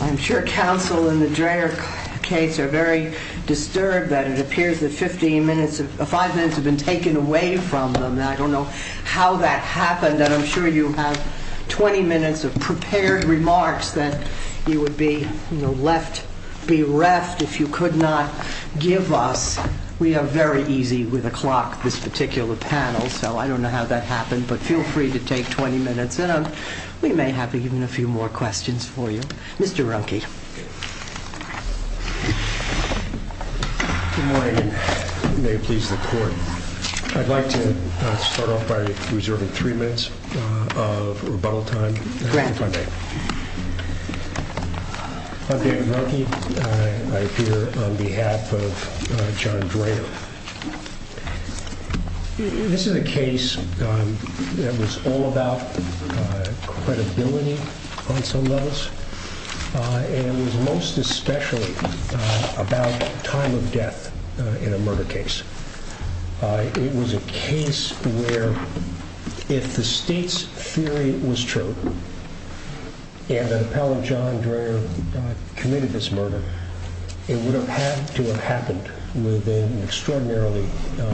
I'm sure counsel in the Dreher case are very disturbed that it appears that 5 minutes have been taken away from them. I don't know how that happened, and I'm sure you have 20 minutes of prepared remarks that you would be left bereft if you could not give us. We are very easy with a clock, this particular panel, so I don't know how that happened. But feel free to take 20 minutes, and we may have even a few more questions for you. Mr. Runke. Good morning. May it please the court. I'd like to start off by reserving 3 minutes of rebuttal time. Go ahead. Mr. Runke, on behalf of John Dreher. This is a case that was all about credibility on some levels, and most especially about time of death in a murder case. It was a case where if the state's theory was true, and an appellate John Dreher committed this murder, it would have had to have happened within an extraordinarily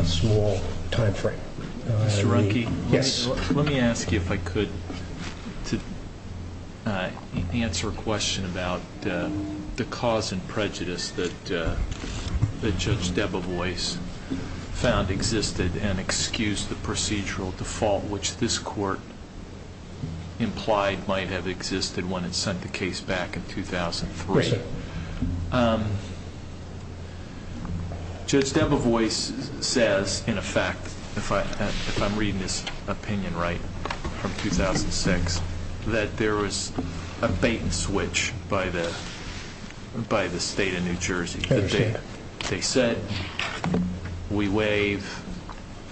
small time frame. Mr. Runke. Yes. Let me ask you if I could to answer a question about the cause and prejudice that Judge Debevoise found existed and excused the procedural default, which this court implied might have existed when it sent the case back in 2003. Great. Judge Debevoise says, in effect, if I'm reading this opinion right, from 2006, that there was a patent switch by the state of New Jersey. They said, we waive.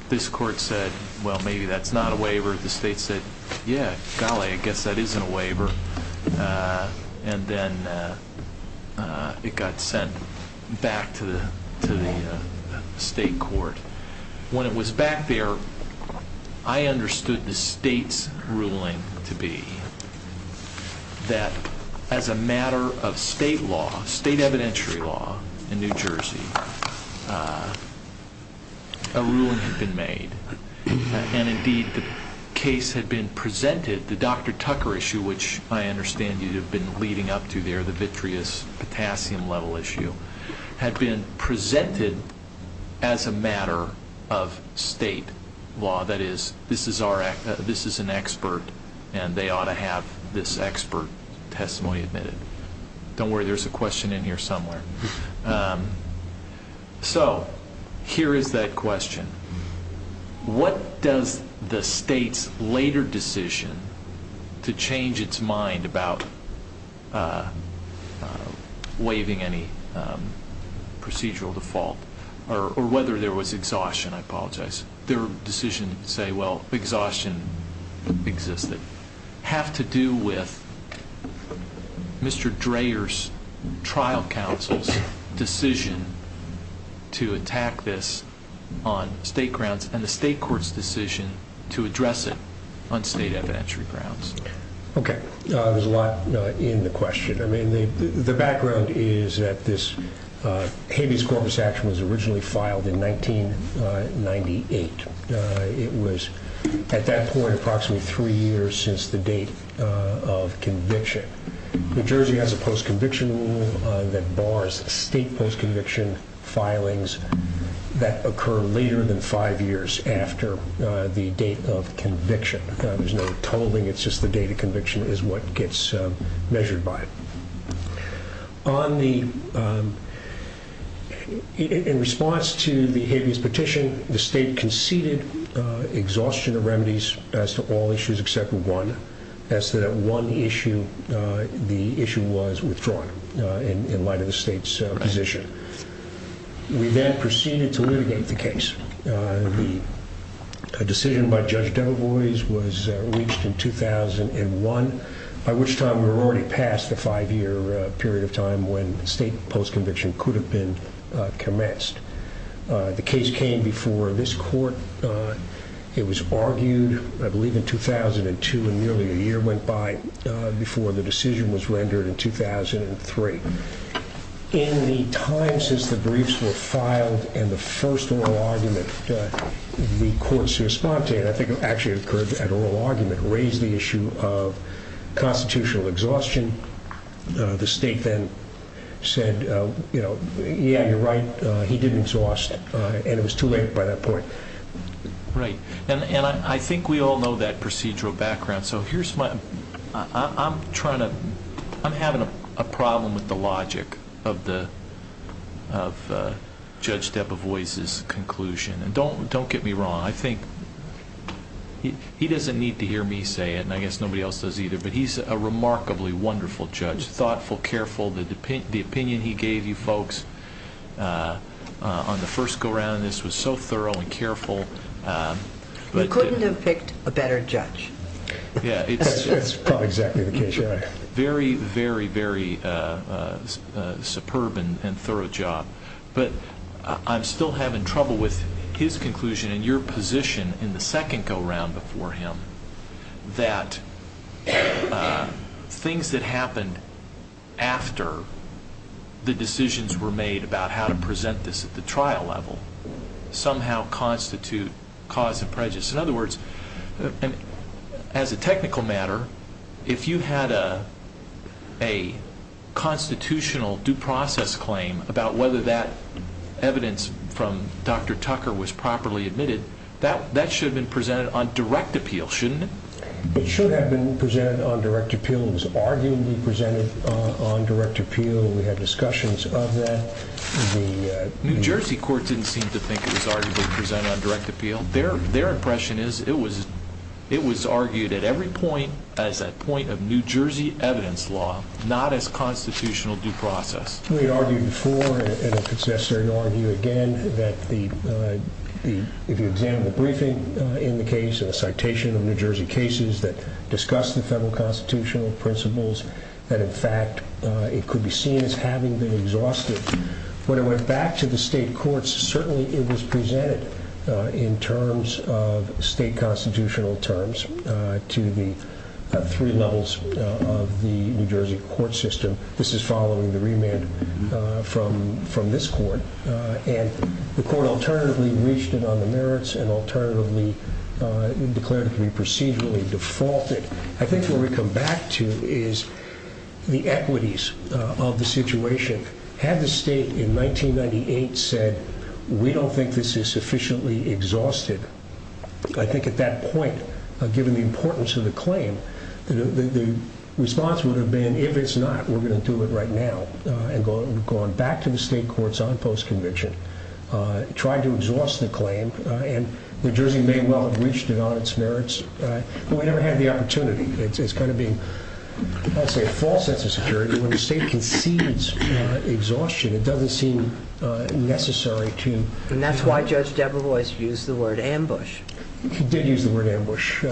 This court said, well, maybe that's not a waiver. The state said, yes, golly, I guess that is a waiver. And then it got sent back to the state court. When it was back there, I understood the state's ruling to be that as a matter of state law, state evidentiary law in New Jersey, a ruling had been made. And, indeed, the case had been presented, the Dr. Tucker issue, which I understand you have been leading up to there, the vitreous potassium level issue, had been presented as a matter of state law. That is, this is an expert, and they ought to have this expert testimony admitted. Don't worry, there's a question in here somewhere. So, here is that question. What does the state's later decision to change its mind about waiving any procedural default, or whether there was exhaustion, I apologize, their decision to say, well, exhaustion existed, have to do with Mr. Dreher's trial counsel's decision to attack this on state grounds, and the state court's decision to address it on state evidentiary grounds? Okay. There's a lot in the question. I mean, the background is that this Habeas Corpus action was originally filed in 1998. It was, at that point, approximately three years since the date of conviction. New Jersey has a post-conviction rule that bars state post-conviction filings that occur later than five years after the date of conviction. There's no tolling, it's just the date of conviction is what gets measured by. In response to the Habeas petition, the state conceded exhaustion of remedies as to all issues except one, as to that one issue, the issue was withdrawn in light of the state's position. We then proceeded to litigate the case. The decision by Judge Del Boise was reached in 2001, by which time we were already past the five-year period of time when state post-conviction could have been commenced. The case came before this court. It was argued, I believe, in 2002, and nearly a year went by before the decision was rendered in 2003. In the time since the briefs were filed and the first oral argument, the court's response to it, I think it actually occurred at oral argument, raised the issue of constitutional exhaustion. The state then said, you know, yeah, you're right, he did exhaust, and it was too late by that point. Right. And I think we all know that procedural background, so here's my, I'm trying to, I'm having a problem with the logic of Judge Del Boise's conclusion. And don't get me wrong, I think, he doesn't need to hear me say it, and I guess nobody else does either, but he's a remarkably wonderful judge, thoughtful, careful. The opinion he gave you folks on the first go-round in this was so thorough and careful. He couldn't have picked a better judge. Yeah. That's probably exactly the case. Very, very, very superb and thorough job. But I'm still having trouble with his conclusion and your position in the second go-round before him that things that happened after the decisions were made about how to present this at the trial level somehow constitute cause and prejudice. In other words, as a technical matter, if you had a constitutional due process claim about whether that evidence from Dr. Tucker was properly admitted, that should have been presented on direct appeal, shouldn't it? It should have been presented on direct appeal. It was arguably presented on direct appeal, and we had discussions of that. New Jersey court didn't seem to think it was arguably presented on direct appeal. Their impression is it was argued at every point as a point of New Jersey evidence law, not as constitutional due process. We argued before, and if it's necessary to argue again, that the example briefing in the case, the citation of New Jersey cases that discuss the federal constitutional principles, that in fact it could be seen as having been exhausted. When it went back to the state courts, certainly it was presented in terms of state constitutional terms to the three levels of the New Jersey court system. This is following the remand from this court, and the court alternatively reached it on the merits and alternatively declared it to be procedurally defaulted. I think what we come back to is the equities of the situation. Had the state in 1998 said, we don't think this is sufficiently exhausted, I think at that point, given the importance of the claim, the response would have been, if it's not, we're going to do it right now. And going back to the state courts on post-conviction, tried to exhaust the claim, and New Jersey may well have reached it on its merits, but we never had the opportunity. It's kind of been, I'll say, a false sense of security. When the state concedes exhaustion, it doesn't seem necessary to... And that's why Judge Debra Royce used the word ambush. She did use the word ambush. He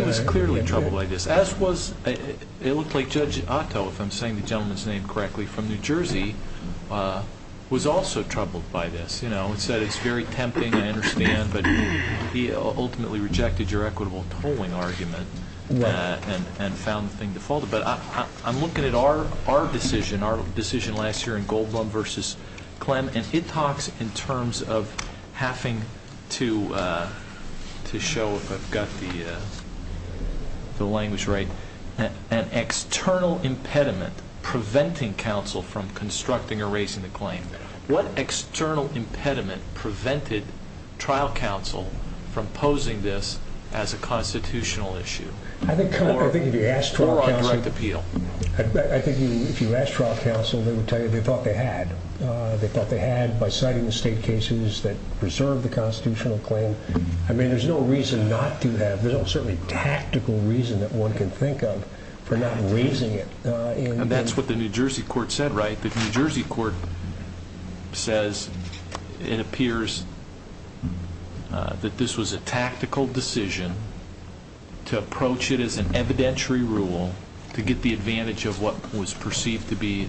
was clearly troubled by this. It looks like Judge Otto, if I'm saying the gentleman's name correctly, from New Jersey, was also troubled by this. He said, it's very tempting, I understand, but he ultimately rejected your equitable tolling argument and found the thing defaulted. But I'm looking at our decision, our decision last year in Goldblum v. Clem, and it talks in terms of having to show, if I've got the language right, an external impediment preventing counsel from constructing or raising the claim. What external impediment prevented trial counsel from posing this as a constitutional issue? Or on direct appeal. I think if you asked trial counsel, they would tell you they thought they had. They thought they had by citing the state cases that preserved the constitutional claim. I mean, there's no reason not to have, there's no certain tactical reason that one can think of for not raising it. And that's what the New Jersey court said, right? The New Jersey court says it appears that this was a tactical decision to approach it as an evidentiary rule to get the advantage of what was perceived to be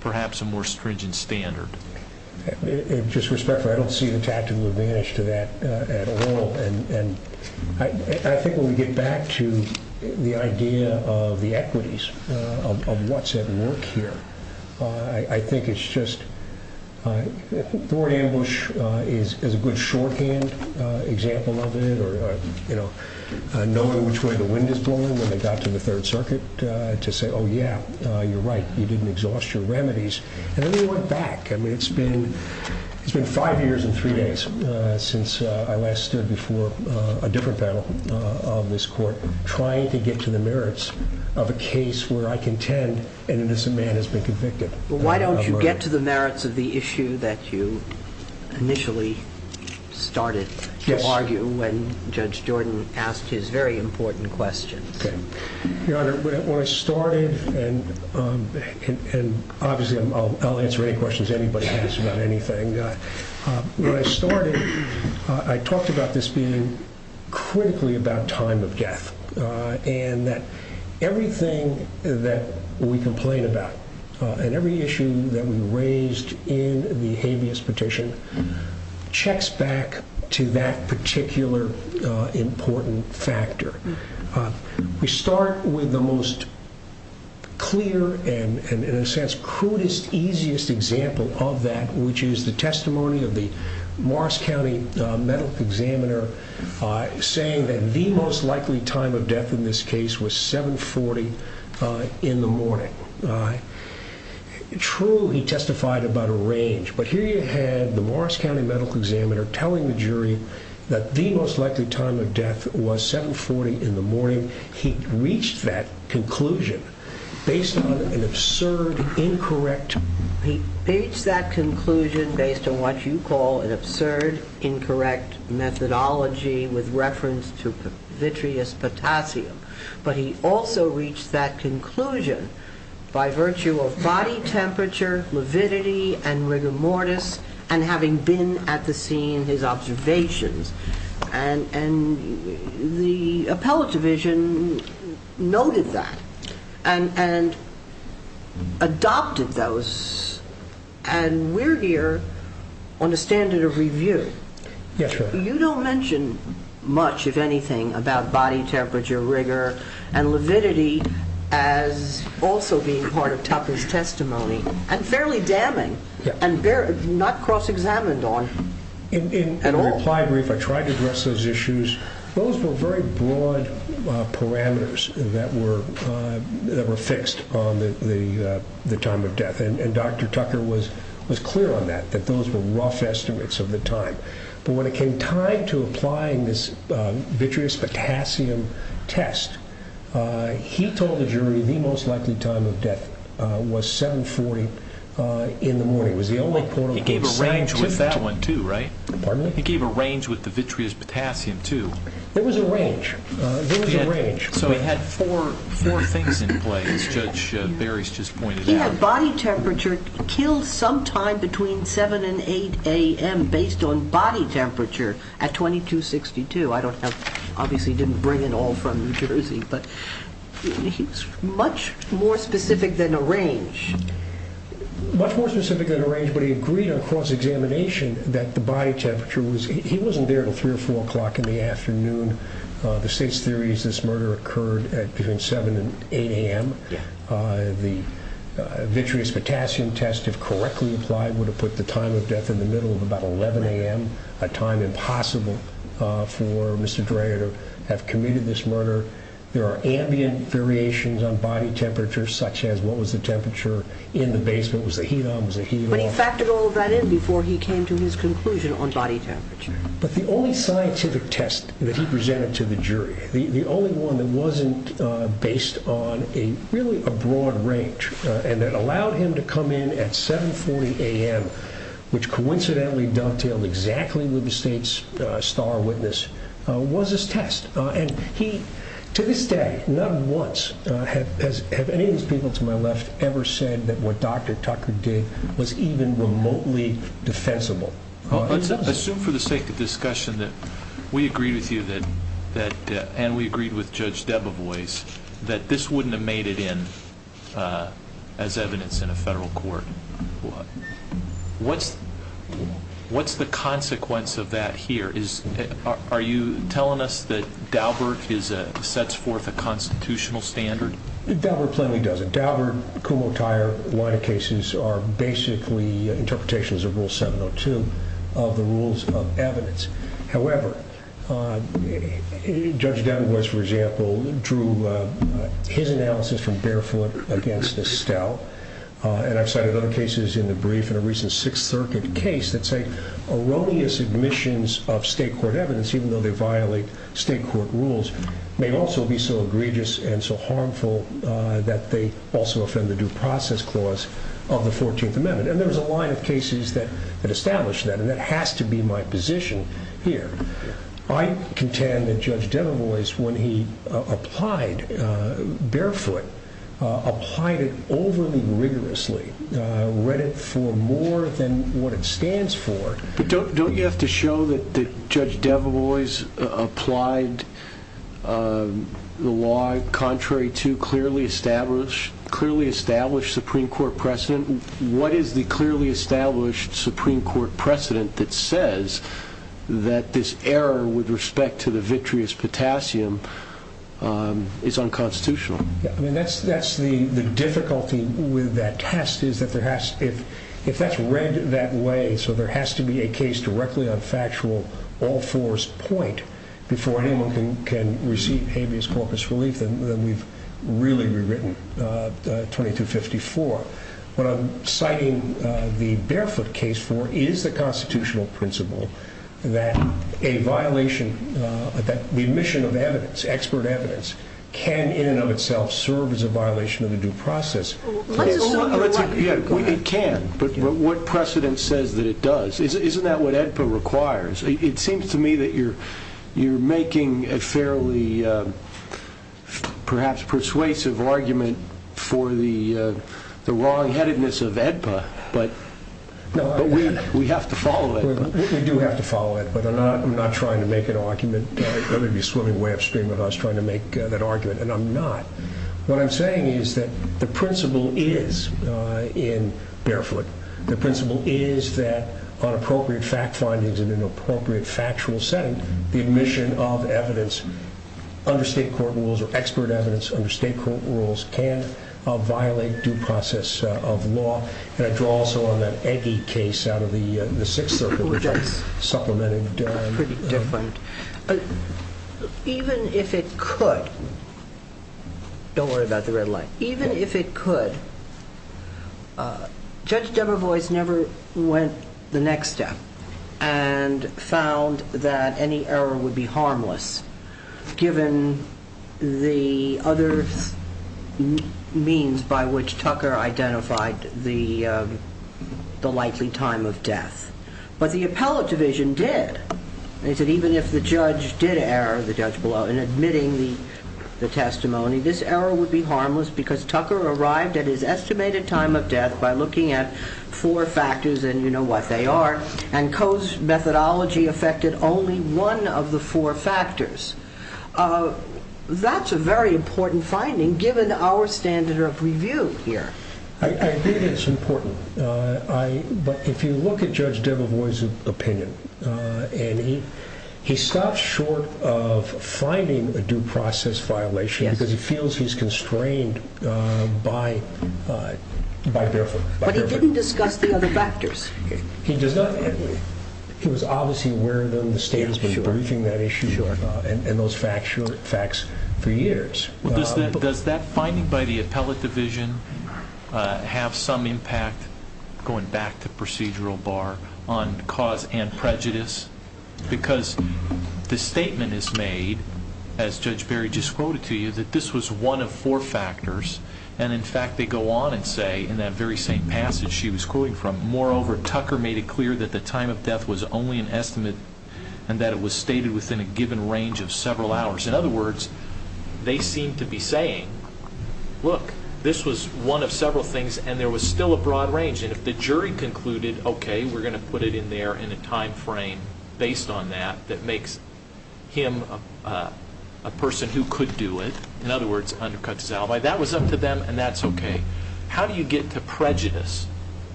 perhaps a more stringent standard. With just respect, I don't see the tactical advantage to that at all. And I think when we get back to the idea of the equities of what's at work here, I think it's just, Thorne ambush is a good shorthand example of it, or, you know, knowing which way the wind is blowing when they got to the third circuit to say, oh yeah, you're right, you didn't exhaust your remedies. And then they went back. I mean, it's been five years and three days since I last stood before a different panel on this court trying to get to the merits of a case where I contend an innocent man has been convicted. Why don't you get to the merits of the issue that you initially started to argue when Judge Jordan asked his very important question? When I started and obviously I'll answer any questions anybody has about anything. When I started, I talked about this being critically about time of death and that everything that we complain about and every issue that we raised in the habeas petition checks back to that particular important factor. We start with the most clear and, in a sense, crudest, easiest example of that, which is the testimony of the Morris County Medical Examiner saying that the most likely time of death in this case was 740 in the morning. True, he testified about a range, but here you had the Morris County Medical Examiner telling the jury that the most likely time of death was 740 in the morning. He reached that conclusion based on an absurd, incorrect. He reached that conclusion based on what you call an absurd, incorrect methodology with reference to vitreous potassium, but he also reached that conclusion by virtue of body temperature, lividity, and rigor mortis, and having been at the scene, his observations. The appellate division noted that and adopted those, and we're here on the standard of review. You don't mention much, if anything, about body temperature, rigor, and lividity as also being part of Tucker's testimony and fairly damning and not cross-examined on at all. In reply brief, I tried to address those issues. Those were very broad parameters that were fixed on the time of death, and Dr. Tucker was clear on that, that those were rough estimates of the time, but when it came time to applying this vitreous potassium test, he told the jury the most likely time of death was 740 in the morning. He gave a range with that one, too, right? Pardon me? He gave a range with the vitreous potassium, too. It was a range. It was a range. So it had four things in play, as Judge Barry's just pointed out. He had body temperature killed sometime between 7 and 8 a.m. based on body temperature at 2262. I don't have, obviously he didn't bring it all from New Jersey, but he's much more specific than a range. Much more specific than a range, but he agreed on cross-examination that the body temperature was, he wasn't there until 3 or 4 o'clock in the afternoon. The state's theory is this murder occurred between 7 and 8 a.m. The vitreous potassium test, if correctly applied, would have put the time of death in the middle of about 11 a.m., a time impossible for Mr. Dreher to have committed this murder. There are ambient variations on body temperature, such as what was the temperature in the basement, was there heat on, was there heat off. But he factored all of that in before he came to his conclusion on body temperature. But the only scientific test that he presented to the jury, the only one that wasn't based on a really broad range, and that allowed him to come in at 7.40 a.m., which coincidentally dovetailed exactly with the state's star witness, was his test. And he, to this day, not once have any of his people to my left ever said that what Dr. Tucker did was even remotely defensible. Let's assume for the sake of discussion that we agree with you that, and we agreed with Judge Debevoise, that this wouldn't have made it in as evidence in a federal court. What's the consequence of that here? Are you telling us that Daubert sets forth a constitutional standard? Daubert plainly doesn't. Daubert, Kumho, Tyer, a lot of cases are basically interpretations of Rule 702 of the rules of evidence. However, Judge Debevoise, for example, drew his analysis from barefoot against a stout. And I've cited other cases in the brief in a recent Sixth Circuit case that say erroneous admissions of state court evidence, even though they violate state court rules, may also be so egregious and so harmful that they also offend the due process clause of the 14th Amendment. And there's a line of cases that establish that, and that has to be my position here. I contend that Judge Debevoise, when he applied barefoot, applied it overly rigorously, read it for more than what it stands for. But don't you have to show that Judge Debevoise applied the law contrary to clearly established Supreme Court precedent? What is the clearly established Supreme Court precedent that says that this error with respect to the vitreous potassium is unconstitutional? That's the difficulty with that test, is that if that's read that way, so there has to be a case directly on factual all fours point before anyone can receive habeas corpus relief, then we've really rewritten 2254. What I'm citing the barefoot case for is the constitutional principle that a violation, that the admission of evidence, expert evidence, can in and of itself serve as a violation of the due process. It can, but what precedent says that it does? Isn't that what AEDPA requires? It seems to me that you're making a fairly perhaps persuasive argument for the wrong-headedness of AEDPA, but we have to follow it. We do have to follow it, but I'm not trying to make an argument. That would be a swimming way upstream of us trying to make that argument, and I'm not. What I'm saying is that the principle is, in barefoot, the principle is that on appropriate fact findings and in an appropriate factual setting, the admission of evidence under state court rules or expert evidence under state court rules can violate due process of law. And I draw also on that Eggie case out of the Sixth Circuit, which I supplemented. It's pretty different. Even if it could, don't worry about the red light. Even if it could, Judge Deborah Boyce never went the next step and found that any error would be harmless, given the other means by which Tucker identified the likely time of death. But the appellate division did. They said even if the judge did err, the judge below, in admitting the testimony, this error would be harmless because Tucker arrived at his estimated time of death by looking at four factors, and you know what they are, and Coe's methodology affected only one of the four factors. That's a very important finding, given our standard of review here. I think it's important. But if you look at Judge Deborah Boyce's opinion, and he stops short of finding a due process violation because he feels he's constrained by their opinion. But he didn't discuss the other factors. He does not. He was obviously aware of them, the state was briefing that issue, and those facts for years. Does that finding by the appellate division have some impact, going back to procedural bar, on cause and prejudice? Because the statement is made, as Judge Berry just quoted to you, that this was one of four factors, and in fact they go on and say in that very same passage she was quoting from, moreover, Tucker made it clear that the time of death was only an estimate and that it was stated within a given range of several hours. In other words, they seem to be saying, look, this was one of several things and there was still a broad range. And if the jury concluded, okay, we're going to put it in there in a time frame based on that, that makes him a person who could do it, in other words, undercut his alibi, that was up to them and that's okay. How do you get to prejudice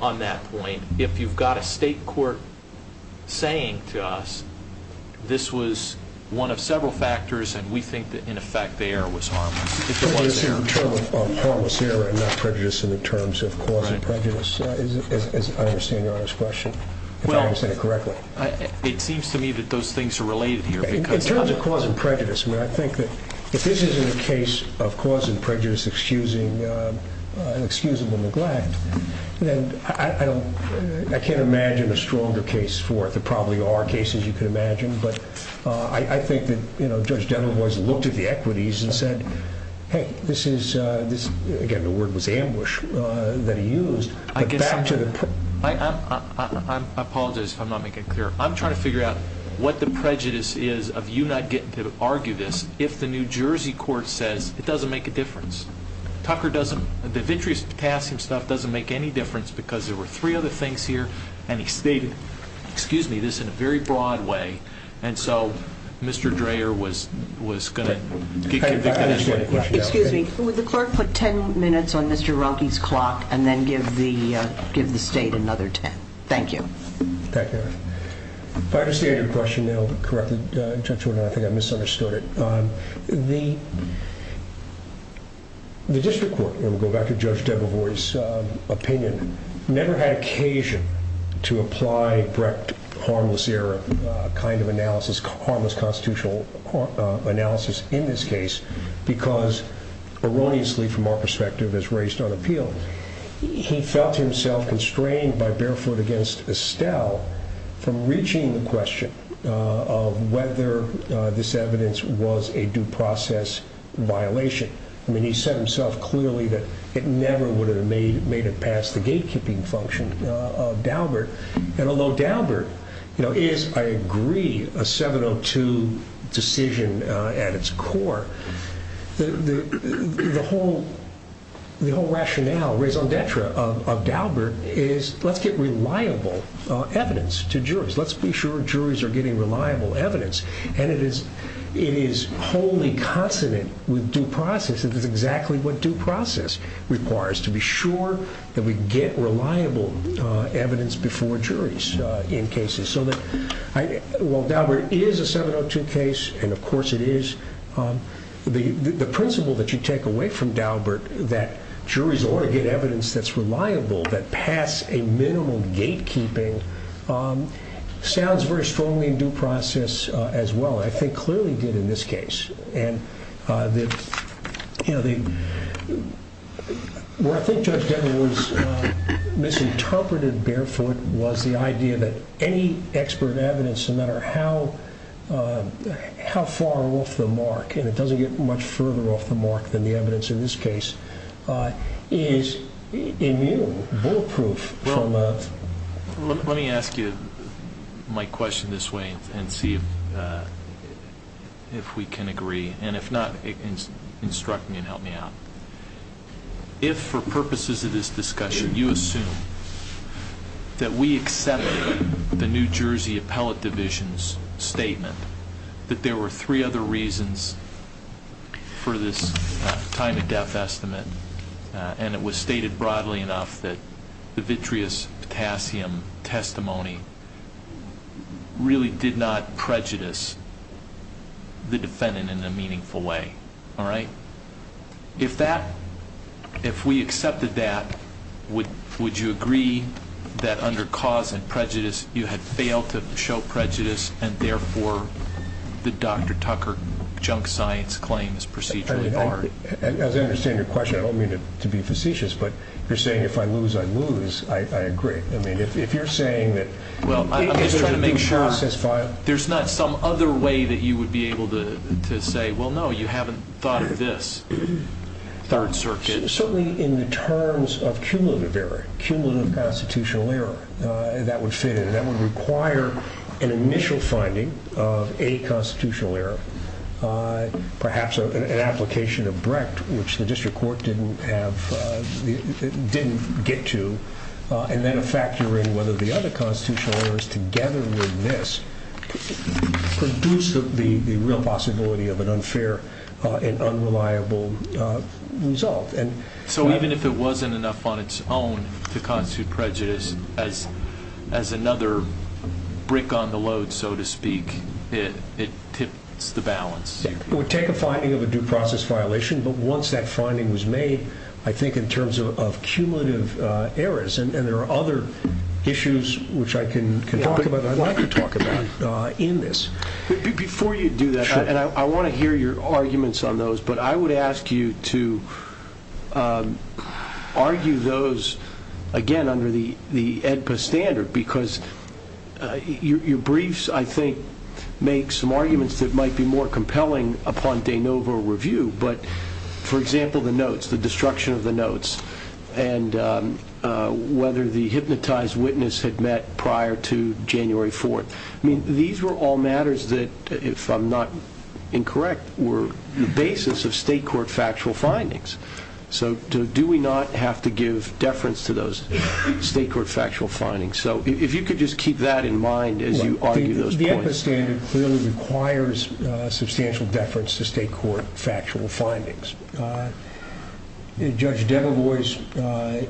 on that point if you've got a state court saying to us, this was one of several factors and we think that, in effect, the error was harmless? Is there a term on harmless error and not prejudice in terms of cause and prejudice? I understand your honest question, if I understand it correctly. It seems to me that those things are related here. In terms of cause and prejudice, I think that if this isn't a case of cause and prejudice, excusable neglect, I can't imagine a stronger case for it. There probably are cases you can imagine, but I think that Judge Denham has looked at the equities and said, hey, this is, again, the word was ambush that he used. I apologize if I'm not making it clear. I'm trying to figure out what the prejudice is of you not getting to argue this if the New Jersey court says it doesn't make a difference. Tucker doesn't, the injuries passed himself doesn't make any difference because there were three other things here and he stated, excuse me, this in a very broad way. And so Mr. Dreher was going to give you the answer. Excuse me. Would the court put ten minutes on Mr. Rockey's clock and then give the state another ten? Thank you. Thank you. If I understand your question now correctly in terms of an academic, I misunderstood it. The district court, and we'll go back to Judge Denham's opinion, never had occasion to apply direct harmless error kind of analysis, harmless constitutional analysis in this case because erroneously from our perspective it's raised unappealed. He felt himself constrained by Barefoot against Estelle from reaching the question of whether this evidence was a due process violation. I mean he said himself clearly that it never would have made it past the gatekeeping function of Daubert. And although Daubert is, I agree, a 702 decision at its core, the whole rationale, raison d'etre of Daubert is let's get reliable evidence to jurors. Let's be sure jurors are getting reliable evidence. And it is wholly consonant with due process. It is exactly what due process requires, to be sure that we get reliable evidence before jurors in cases. So while Daubert is a 702 case, and of course it is, the principle that you take away from Daubert that juries ought to get evidence that's reliable, that pass a minimal gatekeeping, sounds very strongly in due process as well, I think clearly did in this case. And what I think Judge Denham misinterpreted Barefoot was the idea that any expert evidence, no matter how far off the mark, and it doesn't get much further off the mark than the evidence in this case, is immutable, bulletproof. Let me ask you my question this way and see if we can agree. And if not, instruct me and help me out. If for purposes of this discussion you assume that we accept the New Jersey Appellate Division's statement that there were three other reasons for this time-of-death estimate, and it was stated broadly enough that the vitreous potassium testimony really did not prejudice the defendant in a meaningful way, if we accepted that, would you agree that under cause and prejudice you had failed to show prejudice and therefore the Dr. Tucker junk science claims proceed to the court? As I understand your question, I don't mean to be facetious, but you're saying if I lose, I lose. I agree. I mean, if you're saying that there's not some other way that you would be able to say, well, no, you haven't thought of this. Certainly in terms of cumulative error, cumulative constitutional error, that was stated. That would require an initial finding of a constitutional error, perhaps an application of Brecht, which the district court didn't have, didn't get to, and then factoring whether the other constitutional errors together in this produced the real possibility of an unfair and unreliable result. So even if it wasn't enough on its own to constitute prejudice as another brick on the load, so to speak, it tipped the balance. It would take a finding of a due process violation, but once that finding was made, I think in terms of cumulative errors, and there are other issues which I can talk about and I'd like to talk about in this. Before you do that, and I want to hear your arguments on those, but I would ask you to argue those, again, under the AEDPA standard because your briefs, I think, make some arguments that might be more compelling upon de novo review, but, for example, the notes, the destruction of the notes, and whether the hypnotized witness had met prior to January 4th. These were all matters that, if I'm not incorrect, were the basis of state court factual findings. So do we not have to give deference to those state court factual findings? So if you could just keep that in mind as you argue those points. The AEDPA standard clearly requires substantial deference to state court factual findings. Judge Demogorgis,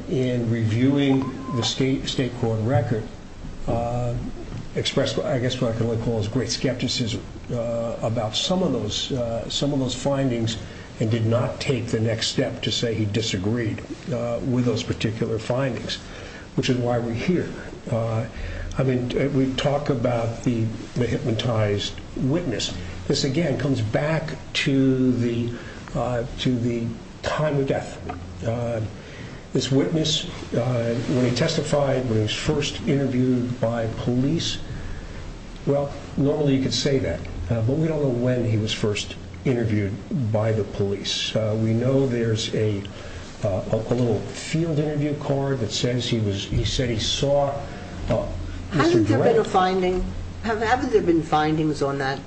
in reviewing the state court record, expressed what I guess I can only call great skepticism about some of those findings and did not take the next step to say he disagreed with those particular findings, which is why we're here. I mean, we talk about the hypnotized witness. This, again, comes back to the time of death. This witness, when he testified when he was first interviewed by police, well, normally you could say that, but we don't know when he was first interviewed by the police. We know there's a little field interview card that says he said he saw Mr. Durant. Have there been findings on that?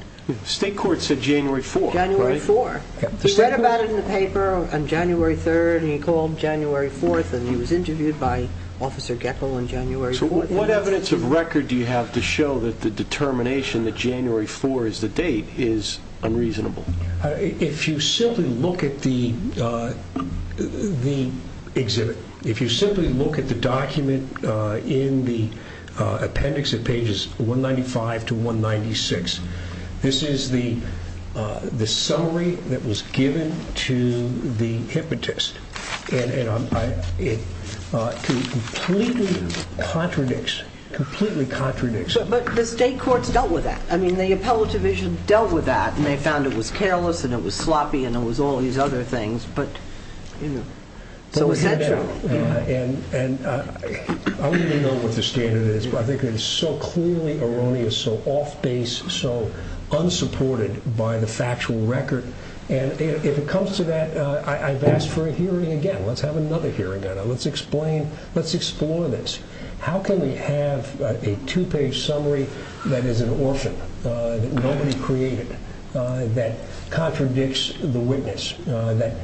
State court said January 4th, right? January 4th. He read about it in the paper on January 3rd, and he called January 4th, and he was interviewed by Officer Geffel on January 4th. So what evidence of record do you have to show that the determination that January 4th is the date is unreasonable? If you simply look at the exhibit, if you simply look at the document in the appendix at pages 195 to 196, this is the summary that was given to the hypnotist, and it completely contradicts, completely contradicts. But the state court dealt with that. I mean, the appellate division dealt with that, and they found it was careless and it was sloppy and it was all these other things, but, you know, so it's natural. And I really don't know what the standard is. I think it is so clearly erroneous, so off base, so unsupported by the factual record. And if it comes to that, I've asked for a hearing again. Let's have another hearing. Let's explain. Let's explore this. How can we have a two-page summary that is an orphan, that nobody created, that contradicts the witness, that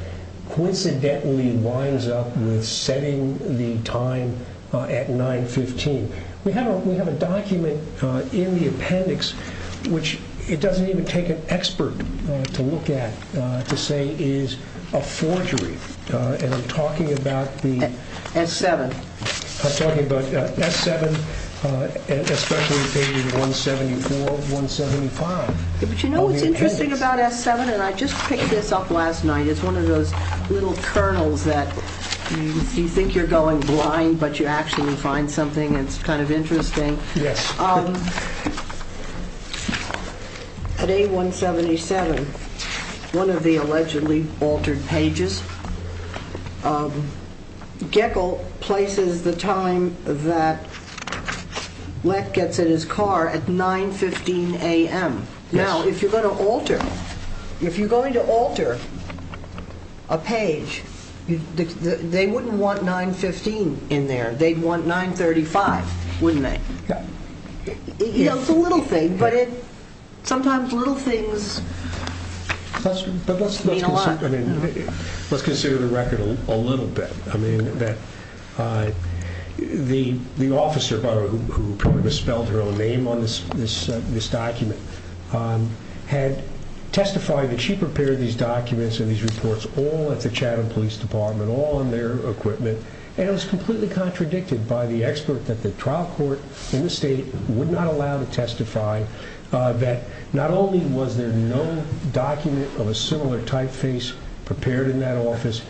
coincidentally winds up setting the time at 915? We have a document in the appendix which it doesn't even take an expert to look at to say is a forgery. And I'm talking about the... F7. I'm talking about F7, especially page 174, 175. But you know what's interesting about F7? And I just picked this up last night. It's one of those little kernels that you think you're going blind, but you actually find something. It's kind of interesting. Yes. At A177, one of the allegedly altered pages, Jekyll places the time that Leck gets in his car at 915 a.m. Now, if you're going to alter a page, they wouldn't want 915 in there. They'd want 935, wouldn't they? It's a little thing, but sometimes little things mean a lot. Let's consider the record a little bit. The officer who probably misspelled her own name on this document had testified that she prepared these documents and these reports all at the Chatham Police Department, all in their equipment, and it was completely contradicted by the expert that the trial court in the state would not allow to testify that not only was there no document of a similar typeface prepared in that office,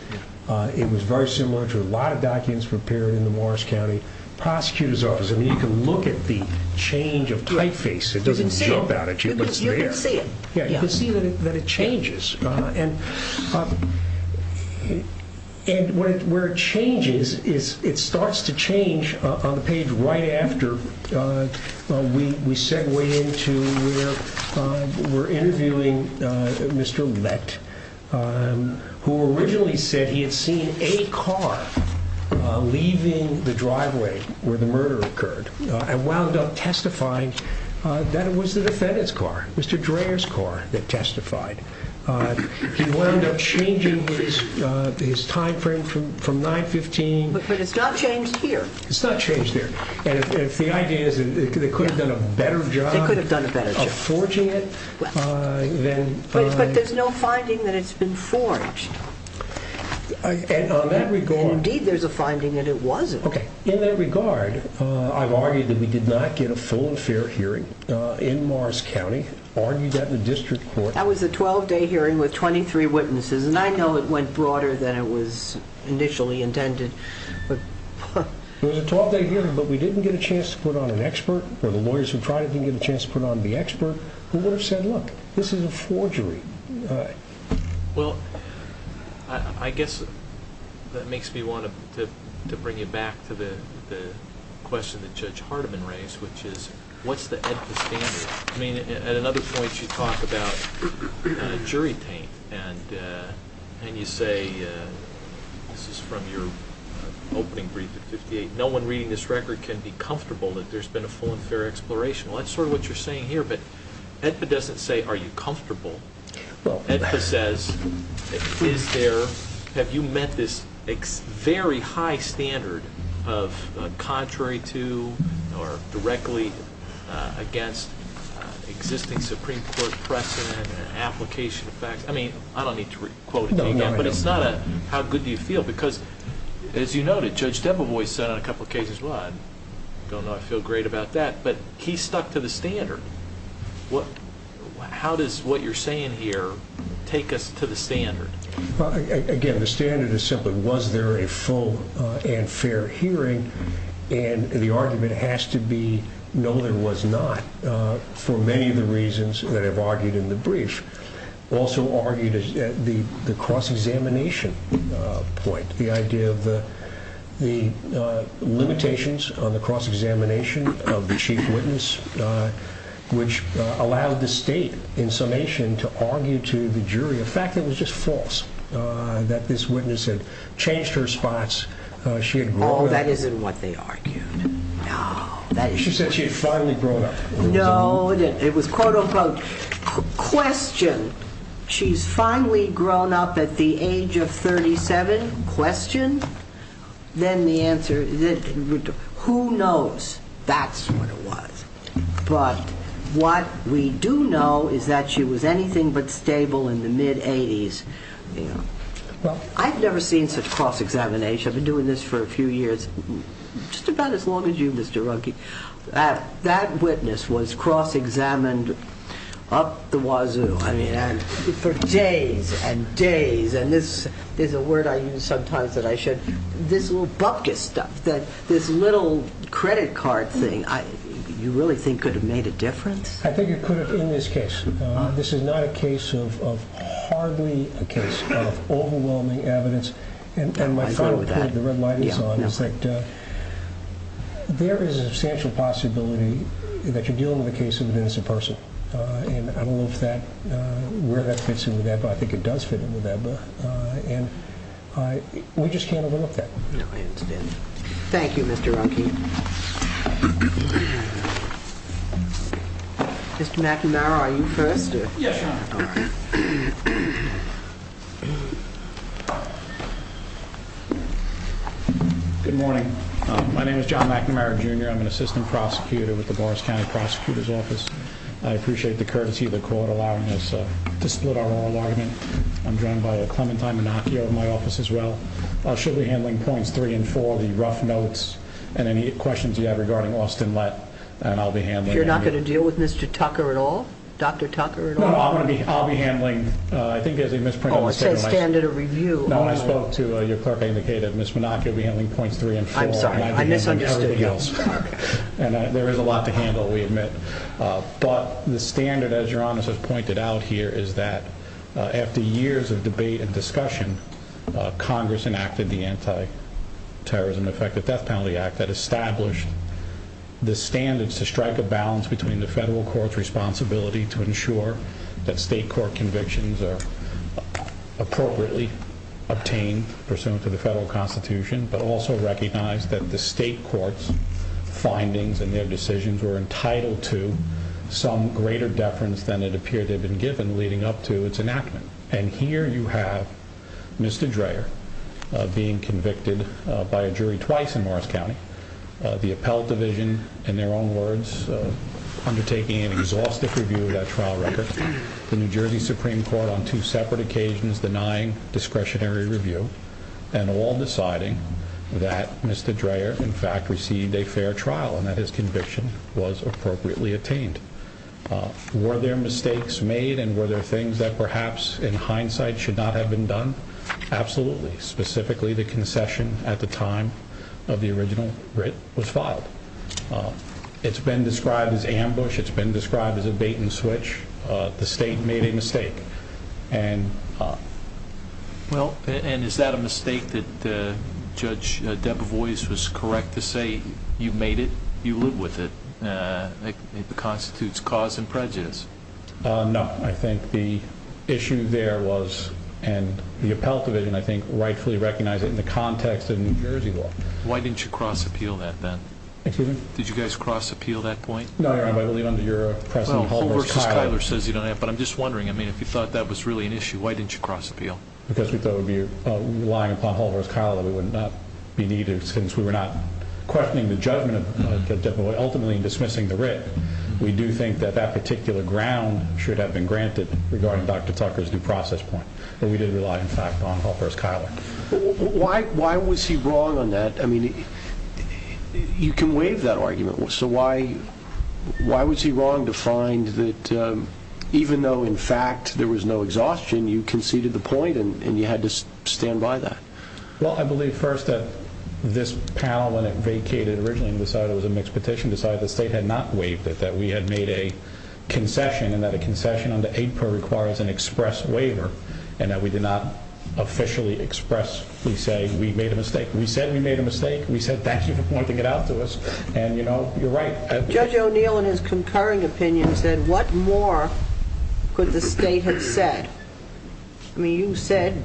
it was very similar to a lot of documents prepared in the Morris County Prosecutor's Office. And you can look at the change of typeface. It doesn't jump out at you. You can see it. You can see that it changes. And where it changes, it starts to change on the page right after we segue into we're interviewing Mr. Leck, who originally said he had seen a car leaving the driveway where the murder occurred and wound up testifying that it was the defendant's car, Mr. Dreher's car, that testified. He wound up changing his time frame from 915. But it's not changed here. It's not changed here. And if the idea is that they could have done a better job of forging it, then... But there's no finding that it's been forged. And on that regard... Indeed, there's a finding that it wasn't. Okay. In that regard, I've argued that we did not get a full and fair hearing in Morris County, argued that in district court. That was a 12-day hearing with 23 witnesses. And I know it went broader than it was initially intended. It was a 12-day hearing, but we didn't get a chance to put on an expert, or the lawyers who tried it didn't get a chance to put on the expert, who would have said, look, this is a forgery. All right. Well, I guess that makes me want to bring you back to the question that Judge Hardiman raised, which is what's the evidence? I mean, at another point, you talk about jury taint. And you say, this is from your opening brief, no one reading this record can be comfortable that there's been a full and fair exploration. Well, that's sort of what you're saying here. But Edford doesn't say, are you comfortable. Edford says, have you met this very high standard of contrary to or directly against existing Supreme Court precedent and application of facts? I mean, I don't need to quote him again, but it's not a how good do you feel. Because, as you noted, Judge Dembev always said on a couple of cases, I don't not feel great about that, but he stuck to the standard. How does what you're saying here take us to the standard? Again, the standard is simply, was there a full and fair hearing? And the argument has to be, no, there was not, for many of the reasons that I've argued in the brief. Judge Dembev also argued the cross-examination point, the idea of the limitations of the cross-examination of the chief witness, which allowed the state, in summation, to argue to the jury the fact that it was just false, that this witness had changed her response, she had grown up. Oh, that isn't what they argued. She said she had finally grown up. No, it was quote, unquote, questioned. She's finally grown up at the age of 37. Questioned. Then the answer is this. Who knows? That's what it was. But what we do know is that she was anything but stable in the mid-'80s. I've never seen such cross-examination. I've been doing this for a few years. Just about as long as you, Mr. Runke. That witness was cross-examined up the wazoo for days and days, and this is a word I use sometimes that I should. This little bucket, this little credit card thing, you really think could have made a difference? I think it could have in this case. This is not a case of hardly a case of overwhelming evidence. And my final point is that there is a substantial possibility that you're dealing with a case of an innocent person, and I don't know where that fits into that, but I think it does fit into that book. We just can't overlook that. Thank you, Mr. Runke. Mr. McNamara, are you first? Good morning. My name is John McNamara, Jr. I'm an assistant prosecutor with the Boris County Prosecutor's Office. I appreciate the courtesy of the court allowing us to split our own argument. I'm joined by Clementine Monacchio in my office as well. She'll be handling points three and four, the rough notes, and any questions you have regarding Austin Lett. You're not going to deal with Mr. Tucker at all? Dr. Tucker at all? I'll be handling, I think as Ms. Pringle was saying, I spoke to your clerk, I indicated Ms. Monacchio will be handling points three and four. I'm sorry. There is a lot to handle, we admit. But the standard, as Your Honor has pointed out here, is that after years of debate and discussion, Congress enacted the Anti-Terrorism Effective Death Penalty Act that established the standards to strike a balance between the federal court's responsibility to ensure that state court convictions are appropriately obtained pursuant to the federal constitution, but also recognize that the state court's findings and their decisions were entitled to some greater deference than it appeared they had been given leading up to its enactment. And here you have Mr. Dreher being convicted by a jury twice in Morris County, the Appellate Division, in their own words, undertaking an exhaustive review of that trial record, the New Jersey Supreme Court on two separate occasions denying discretionary review, and all deciding that Mr. Dreher in fact received a fair trial and that his conviction was appropriately attained. Were there mistakes made and were there things that perhaps in hindsight should not have been done? Absolutely. Specifically, the concession at the time of the original writ was filed. It's been described as ambush. It's been described as a bait and switch. The state made a mistake. Well, and is that a mistake that Judge Debevoise was correct to say, you made it, you live with it, and it constitutes cause and prejudice? No. I think the issue there was, and the Appellate Division, I think, rightfully recognized it in the context of New Jersey law. Why didn't you cross-appeal that then? Excuse me? Did you guys cross-appeal that point? No. I believe under your precedent, Hall versus Cuyler. But I'm just wondering. I mean, if you thought that was really an issue, why didn't you cross-appeal? Because we thought relying upon Hall versus Cuyler would not be needed, since we were not questioning the judgment of Judge Debevoise, ultimately dismissing the writ. We do think that that particular ground should have been granted regarding Dr. Tucker's due process point, that we did rely, in fact, on Hall versus Cuyler. Why was he wrong on that? I mean, you can waive that argument. So why was he wrong to find that even though, in fact, there was no exhaustion, you conceded the point, and you had to stand by that? Well, I believe, first, that this panel, when it vacated originally and decided it was a mixed petition, decided the state had not waived it, that we had made a concession, and that a concession under 8-per requires an express waiver, and that we did not officially expressly say we made a mistake. We said we made a mistake. We said that's the point to get out to us. And, you know, you're right. Judge O'Neill, in his concurring opinion, said what more could the state have said? I mean, you said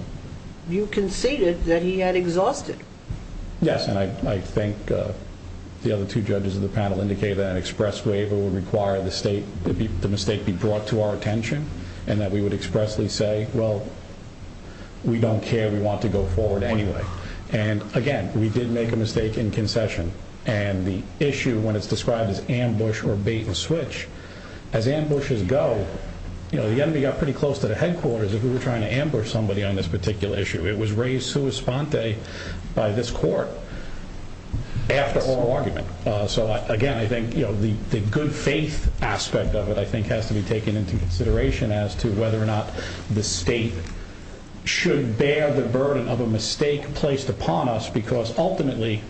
you conceded that he had exhausted it. Yes, and I think the other two judges of the panel indicated that an express waiver would require the mistake be brought to our attention, and that we would expressly say, well, we don't care, we want to go forward anyway. And, again, we did make a mistake in concession, and the issue when it's described as ambush or bait and switch, as ambushes go, you know, the enemy got pretty close to the headquarters if we were trying to ambush somebody on this particular issue. It was raised sua sponte by this court after oral argument. So, again, I think, you know, the good faith aspect of it, I think, has to be taken into consideration as to whether or not the state should bear the burden of a mistake placed upon us because, ultimately,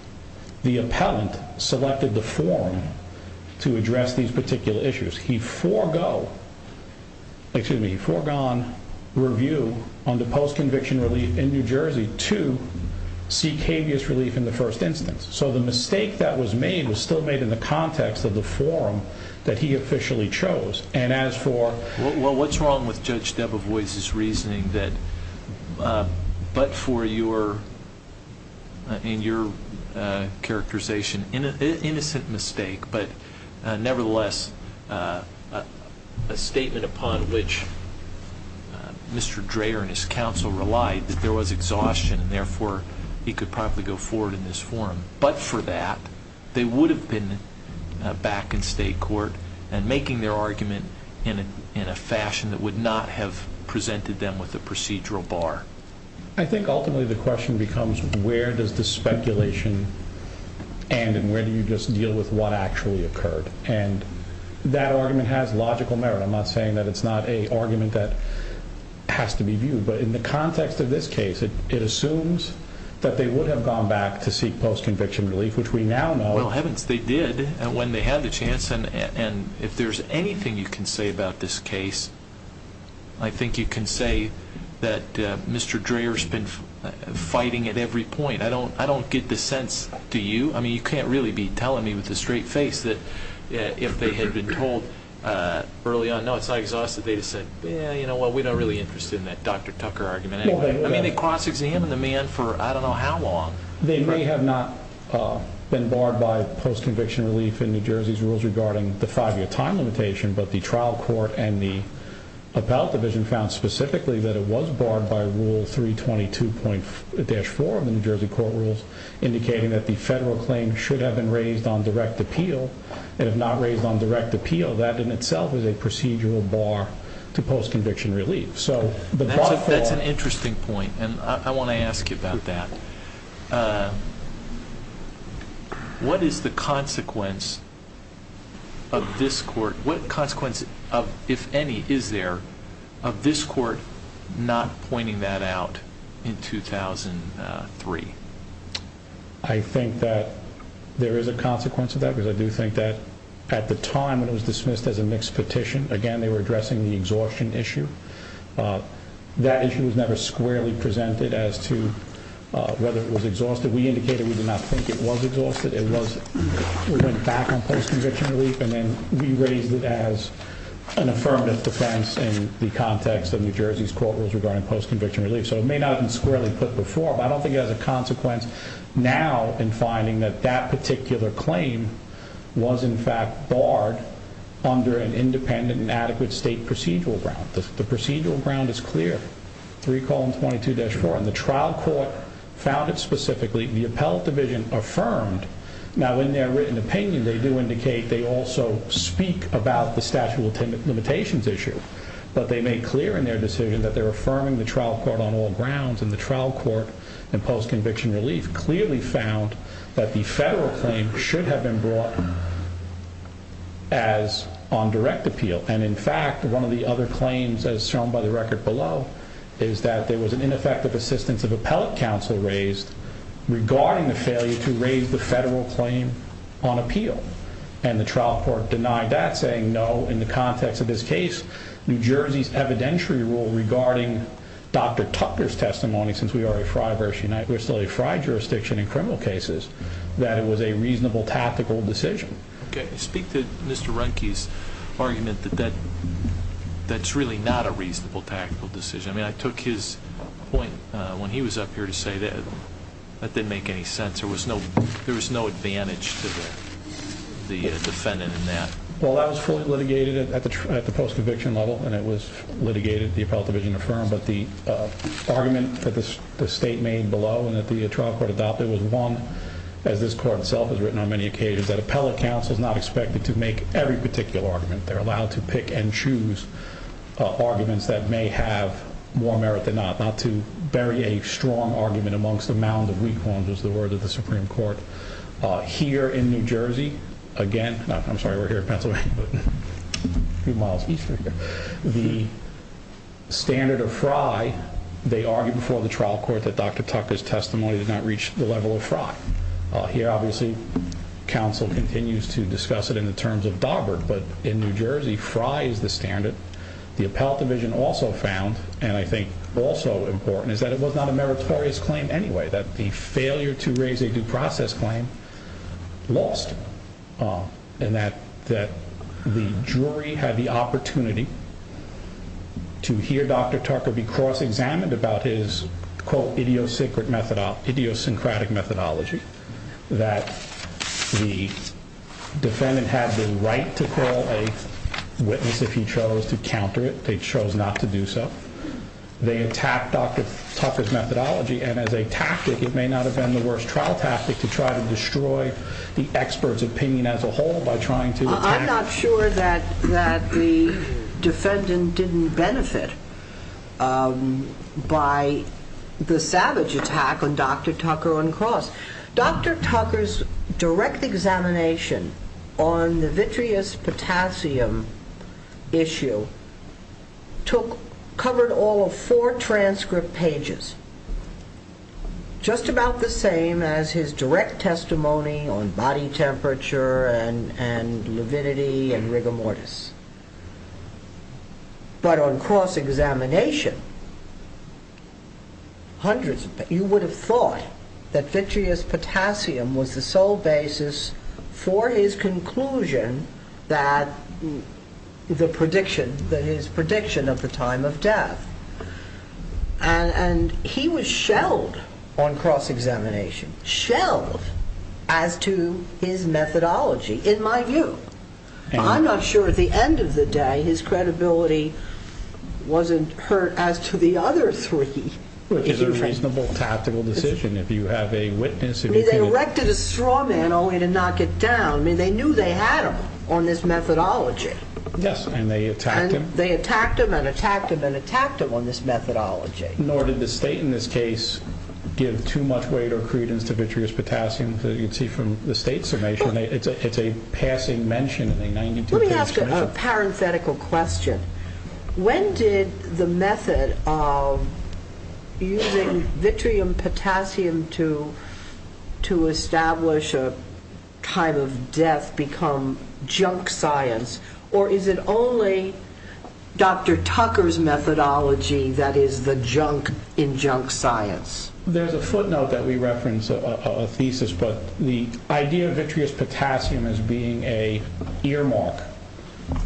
the appellant selected the forum to address these particular issues. He foregone review under post-conviction relief in New Jersey to seek habeas relief in the first instance. So the mistake that was made was still made in the context of the forum that he officially chose. Well, what's wrong with Judge Debevoise's reasoning that but for your characterization, innocent mistake, but, nevertheless, a statement upon which Mr. Dreher and his counsel relied, that there was exhaustion and, therefore, he could probably go forward in this forum, but for that, they would have been back in state court and making their argument in a fashion that would not have presented them with a procedural bar. I think, ultimately, the question becomes where does the speculation end and where do you just deal with what actually occurred? And that argument has logical merit. I'm not saying that it's not an argument that has to be viewed, but in the context of this case, it assumes that they would have gone back to seek post-conviction relief, which we now know. Well, they did when they had the chance, and if there's anything you can say about this case, I think you can say that Mr. Dreher's been fighting at every point. I don't get the sense, do you? I mean, you can't really be telling me with a straight face that if they had been told early on, no, it's not exhaustive, they'd have said, well, we're not really interested in that Dr. Tucker argument. I mean, they cross-examined the man for I don't know how long. They may have not been barred by post-conviction relief in New Jersey's rules regarding the five-year time limitation, but the trial court and the appellate division found specifically that it was barred by Rule 322.4 of the New Jersey court rules, indicating that the federal claim should have been raised on direct appeal and if not raised on direct appeal, that in itself is a procedural bar to post-conviction relief. That's an interesting point, and I want to ask you about that. What is the consequence of this court, if any, is there, of this court not pointing that out in 2003? I think that there is a consequence of that, because I do think that at the time it was dismissed as a mixed petition. Again, they were addressing the exhaustion issue. That issue was never squarely presented as to whether it was exhaustive. We indicated we did not think it was exhaustive. It was in fact on post-conviction relief, and then we raised it as an affirmative defense in the context of New Jersey's court rules regarding post-conviction relief. So it may not have been squarely put before, but I don't think it has a consequence now in finding that that particular claim was in fact barred under an independent and adequate state procedural ground. The procedural ground is clear. If you recall in 22-4, the trial court found it specifically. The appellate division affirmed. Now, in their written opinion, they do indicate they also speak about the statute of limitations issue, but they made clear in their decision that they're affirming the trial court on all grounds, and the trial court in post-conviction relief clearly found that the federal claim should have been brought as on direct appeal. And in fact, one of the other claims, as shown by the record below, is that there was an ineffective assistance of appellate counsel raised regarding the failure to raise the federal claim on appeal. And the trial court denied that, saying no, in the context of this case, New Jersey's evidentiary rule regarding Dr. Tucker's testimony, since we are a tri-jurisdiction in criminal cases, that it was a reasonable tactical decision. Okay, speak to Mr. Runke's argument that that's really not a reasonable tactical decision. I mean, I took his point when he was up here to say that. That didn't make any sense. There was no advantage to the defendant in that. Well, that was fully litigated at the post-conviction level, and it was litigated, the appellate division affirmed, that the argument that the state made below and that the trial court adopted was one that this court itself has written on many occasions, that appellate counsel is not expected to make every particular argument. They're allowed to pick and choose arguments that may have more merit than not, not to bury a strong argument amongst a mound of weak ones, is the word of the Supreme Court. Here in New Jersey, again, I'm sorry, we're here in Pennsylvania, but a few miles east of here, the standard of FRI, they argued before the trial court that Dr. Tucker's testimony did not reach the level of FRI. Here, obviously, counsel continues to discuss it in the terms of Daubert, but in New Jersey, FRI is the standard. The appellate division also found, and I think also important, is that it was not a meritorious claim anyway, that the failure to raise a due process claim lost, and that the jury had the opportunity to hear Dr. Tucker be cross-examined about his, quote, idiosyncratic methodology, that the defendant had the right to call a witness if he chose to counter it. They chose not to do so. They attacked Dr. Tucker's methodology, and as a tactic, it may not have been the worst trial tactic, to try to destroy the expert's opinion as a whole by trying to- I'm not sure that the defendant didn't benefit by the savage attack on Dr. Tucker uncrossed. Dr. Tucker's direct examination on the vitreous potassium issue covered all of four transcript pages, just about the same as his direct testimony on body temperature and lividity and rigor mortis. But on cross-examination, you would have thought that vitreous potassium was the sole basis for his conclusion that the prediction, that his prediction of the time of death, and he was shelled on cross-examination, shelled as to his methodology, in my view. I'm not sure, at the end of the day, his credibility wasn't hurt as to the other three. It's a reasonable tactical decision. If you have a witness- I mean, they erected a straw man only to knock it down. I mean, they knew they had him on this methodology. Yes, and they attacked him. And they attacked him and attacked him and attacked him on this methodology. Nor did the state, in this case, give too much weight or credence to vitreous potassium, as you can see from the state's information. It's a passing mention. Let me ask a parenthetical question. When did the method of using vitreous potassium to establish a time of death become junk science, or is it only Dr. Tucker's methodology that is the junk in junk science? There's a footnote that we referenced, a thesis, but the idea of vitreous potassium as being an earmark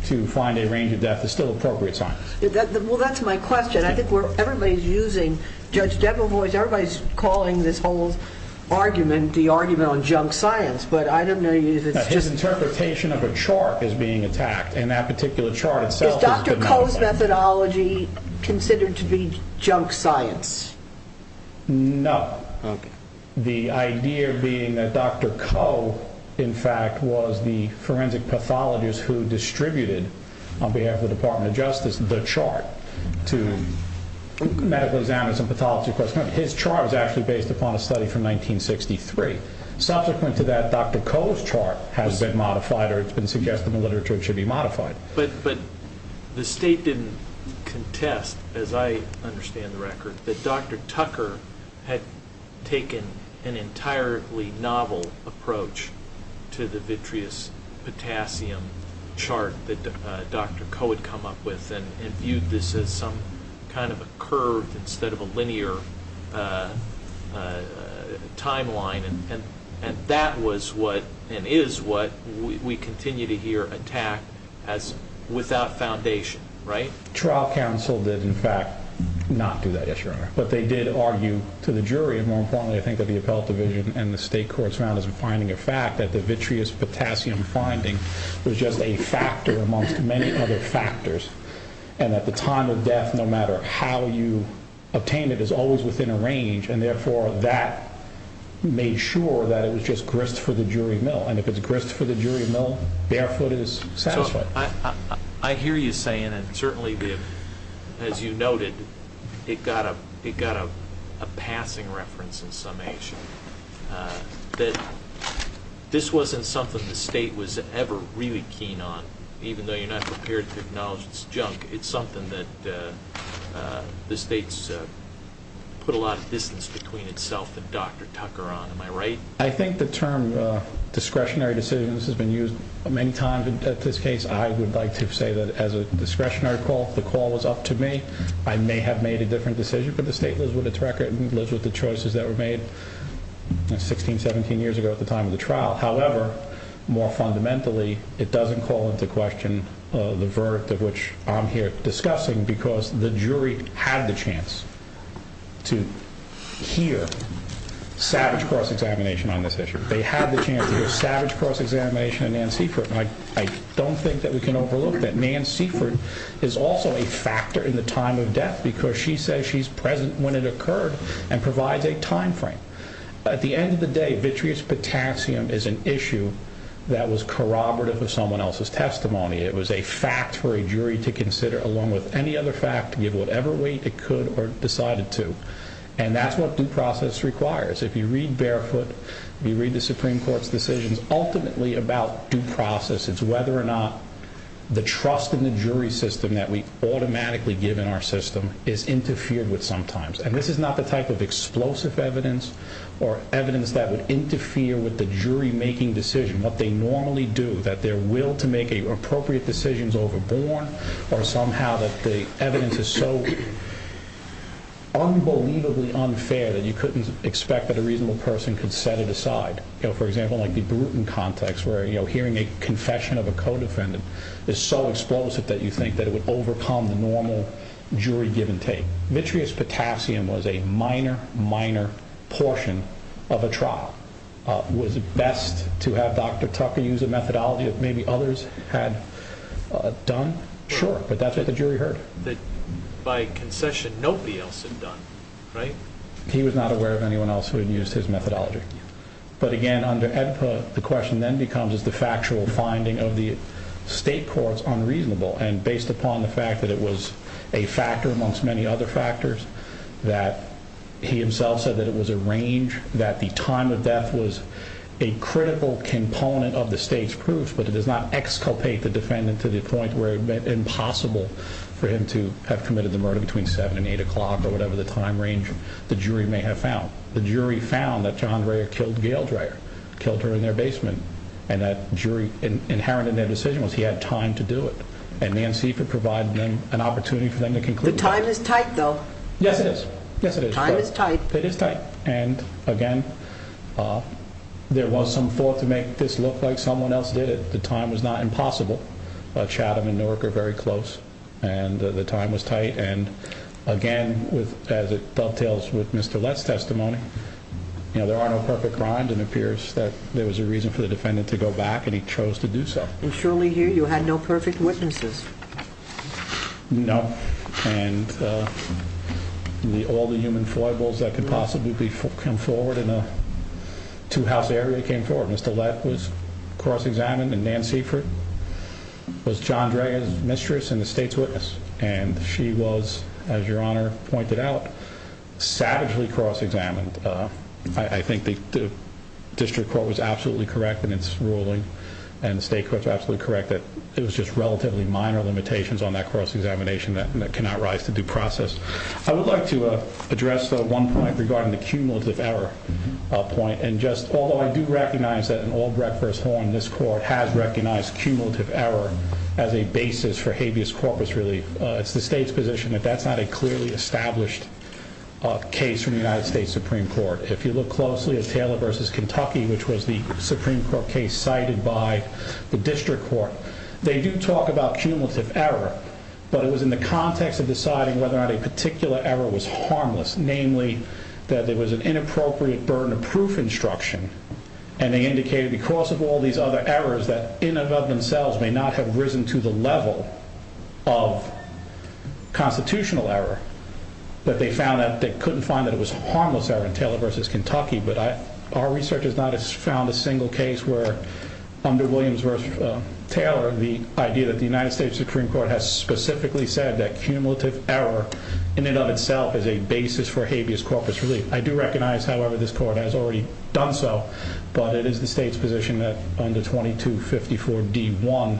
to find a range of death is still appropriate science. Well, that's my question. I think everybody's using Judge Debra Boyd's- everybody's calling this whole argument the argument on junk science, but I don't know- His interpretation of a chart is being attacked, and that particular chart itself- Is Dr. Koh's methodology considered to be junk science? No. The idea being that Dr. Koh, in fact, was the forensic pathologist who distributed, on behalf of the Department of Justice, the chart to medical examiners and pathology professionals. His chart was actually based upon a study from 1963. Subsequent to that, Dr. Koh's chart has been modified, or it's been suggested in the literature it should be modified. But the state didn't contest, as I understand the record, that Dr. Tucker had taken an entirely novel approach to the vitreous potassium chart that Dr. Koh had come up with and viewed this as some kind of a curve instead of a linear timeline, and that was what, and is what, we continue to hear attacked as without foundation, right? Trial counsel did, in fact, not do that issue. But they did argue to the jury, and more importantly, I think, that the Appellate Division and the state courts found as a finding of fact that the vitreous potassium finding was just a factor amongst many other factors, and that the time of death, no matter how you obtain it, is always within a range, and therefore, that made sure that it was just grist for the jury to know, and if it's grist for the jury to know, their foot is satisfied. I hear you saying, and certainly, as you noted, it got a passing reference in summation, that this wasn't something the state was ever really keen on, even though you're not prepared to acknowledge this junk. It's something that the state's put a lot of distance between itself and Dr. Tucker, am I right? I think the term discretionary decisions has been used many times. In this case, I would like to say that as a discretionary call, the call is up to me. I may have made a different decision, but the state lives with its record and lives with the choices that were made 16, 17 years ago at the time of the trial. However, more fundamentally, it doesn't call into question the verdict of which I'm here discussing because the jury had the chance to hear Savage Cross Examination on this issue. They had the chance to hear Savage Cross Examination and Nan Seaford, and I don't think that we can overlook that Nan Seaford is also a factor in the time of death because she says she's present when it occurred and provides a time frame. At the end of the day, vitreous potassium is an issue that was corroborative of someone else's testimony. It was a fact for a jury to consider along with any other fact, give whatever weight it could or decided to, and that's what due process requires. If you read Barefoot, if you read the Supreme Court's decisions, ultimately about due process, it's whether or not the trust in the jury system that we automatically give in our system is interfered with sometimes. And this is not the type of explosive evidence or evidence that would interfere with the jury making decision, what they normally do, that their will to make appropriate decisions overbore, or somehow that the evidence is so unbelievably unfair that you couldn't expect that a reasonable person could set it aside. For example, like the Bruton context where hearing a confession of a co-defendant is so explosive that you think that it would overcome the normal jury-given take. Vitreous potassium was a minor, minor portion of a trial. Was it best to have Dr. Tucker use a methodology that maybe others had done? Sure, but that's what the jury heard. That by concession, nobody else had done, right? He was not aware of anyone else who had used his methodology. But again, the question then becomes, is the factual finding of the state courts unreasonable? And based upon the fact that it was a factor amongst many other factors, that he himself said that it was a range, that the time of death was a critical component of the state's proof, but it does not exculpate the defendant to the point where it's impossible for him to have committed the murder between 7 and 8 o'clock or whatever the time range the jury may have found. The jury found that Shahandraya killed Gayle Dreyer, killed her in their basement, and that jury inherent in their decision was he had time to do it. And Nancy could provide an opportunity for them to conclude. The time is tight, though. Yes, it is. Yes, it is. Time is tight. It is tight. And again, there was some thought to make this look like someone else did it. The time is not impossible, but Chatham and Newark are very close, and the time was tight. And again, as it dovetails with Mr. Lett's testimony, there are no perfect crimes, and it appears that there was a reason for the defendant to go back, and he chose to do so. And surely here you had no perfect witnesses? No, and all the human foibles that could possibly come forward in a two-house area came forward. Mr. Lett was cross-examined, and Nancy was Shahandraya's mistress and the state's witness. And she was, as Your Honor pointed out, savagely cross-examined. I think the district court was absolutely correct in its ruling, and the state court was absolutely correct that there was just relatively minor limitations on that cross-examination that cannot rise to due process. I would like to address, though, one point regarding the cumulative error point. And just, although I do recognize that an old recourse holding this court has recognized cumulative error as a basis for habeas corpus relief, it's the state's position that that's not a clearly established case from the United States Supreme Court. If you look closely at Taylor v. Kentucky, which was the Supreme Court case cited by the district court, they do talk about cumulative error, but it was in the context of deciding whether or not a particular error was harmless, namely that there was an inappropriate burden of proof instruction, and they indicated because of all these other errors that in and of themselves may not have risen to the level of constitutional error, that they found that they couldn't find that it was harmless error in Taylor v. Kentucky. But our research has not found a single case where under Williams v. Taylor, the idea that the United States Supreme Court has specifically said that cumulative error in and of itself is a basis for habeas corpus relief. I do recognize, however, this court has already done so, but it is the state's position that under 2254d.1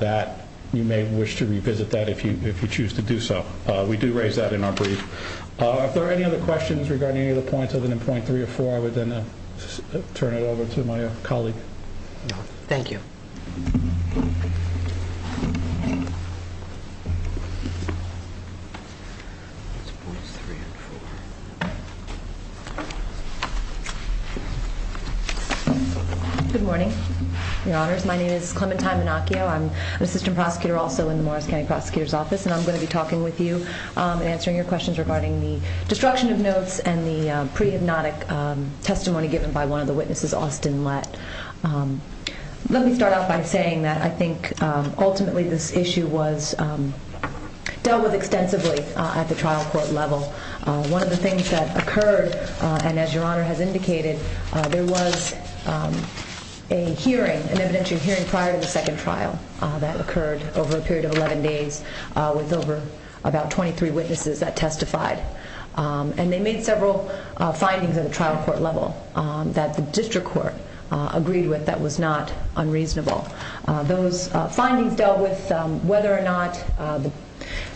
that you may wish to revisit that if you choose to do so. We do raise that in our brief. If there are any other questions regarding any of the points other than point three or four, I would then turn it over to my colleague. Thank you. Good morning, Your Honors. My name is Clementine Manocchio. I'm an assistant prosecutor also in the Morris County Prosecutor's Office, and I'm going to be talking with you and answering your questions regarding the destruction of notes and the pre-hypnotic testimony given by one of the witnesses, Austin Lett. Let me start off by saying that I think ultimately this issue was dealt with extensively at the trial court level. One of the things that occurred, and as Your Honor has indicated, there was a hearing, an evidentiary hearing prior to the second trial that occurred over a period of 11 days with over about 23 witnesses that testified. And they made several findings at a trial court level that the district court agreed with that was not unreasonable. Those findings dealt with whether or not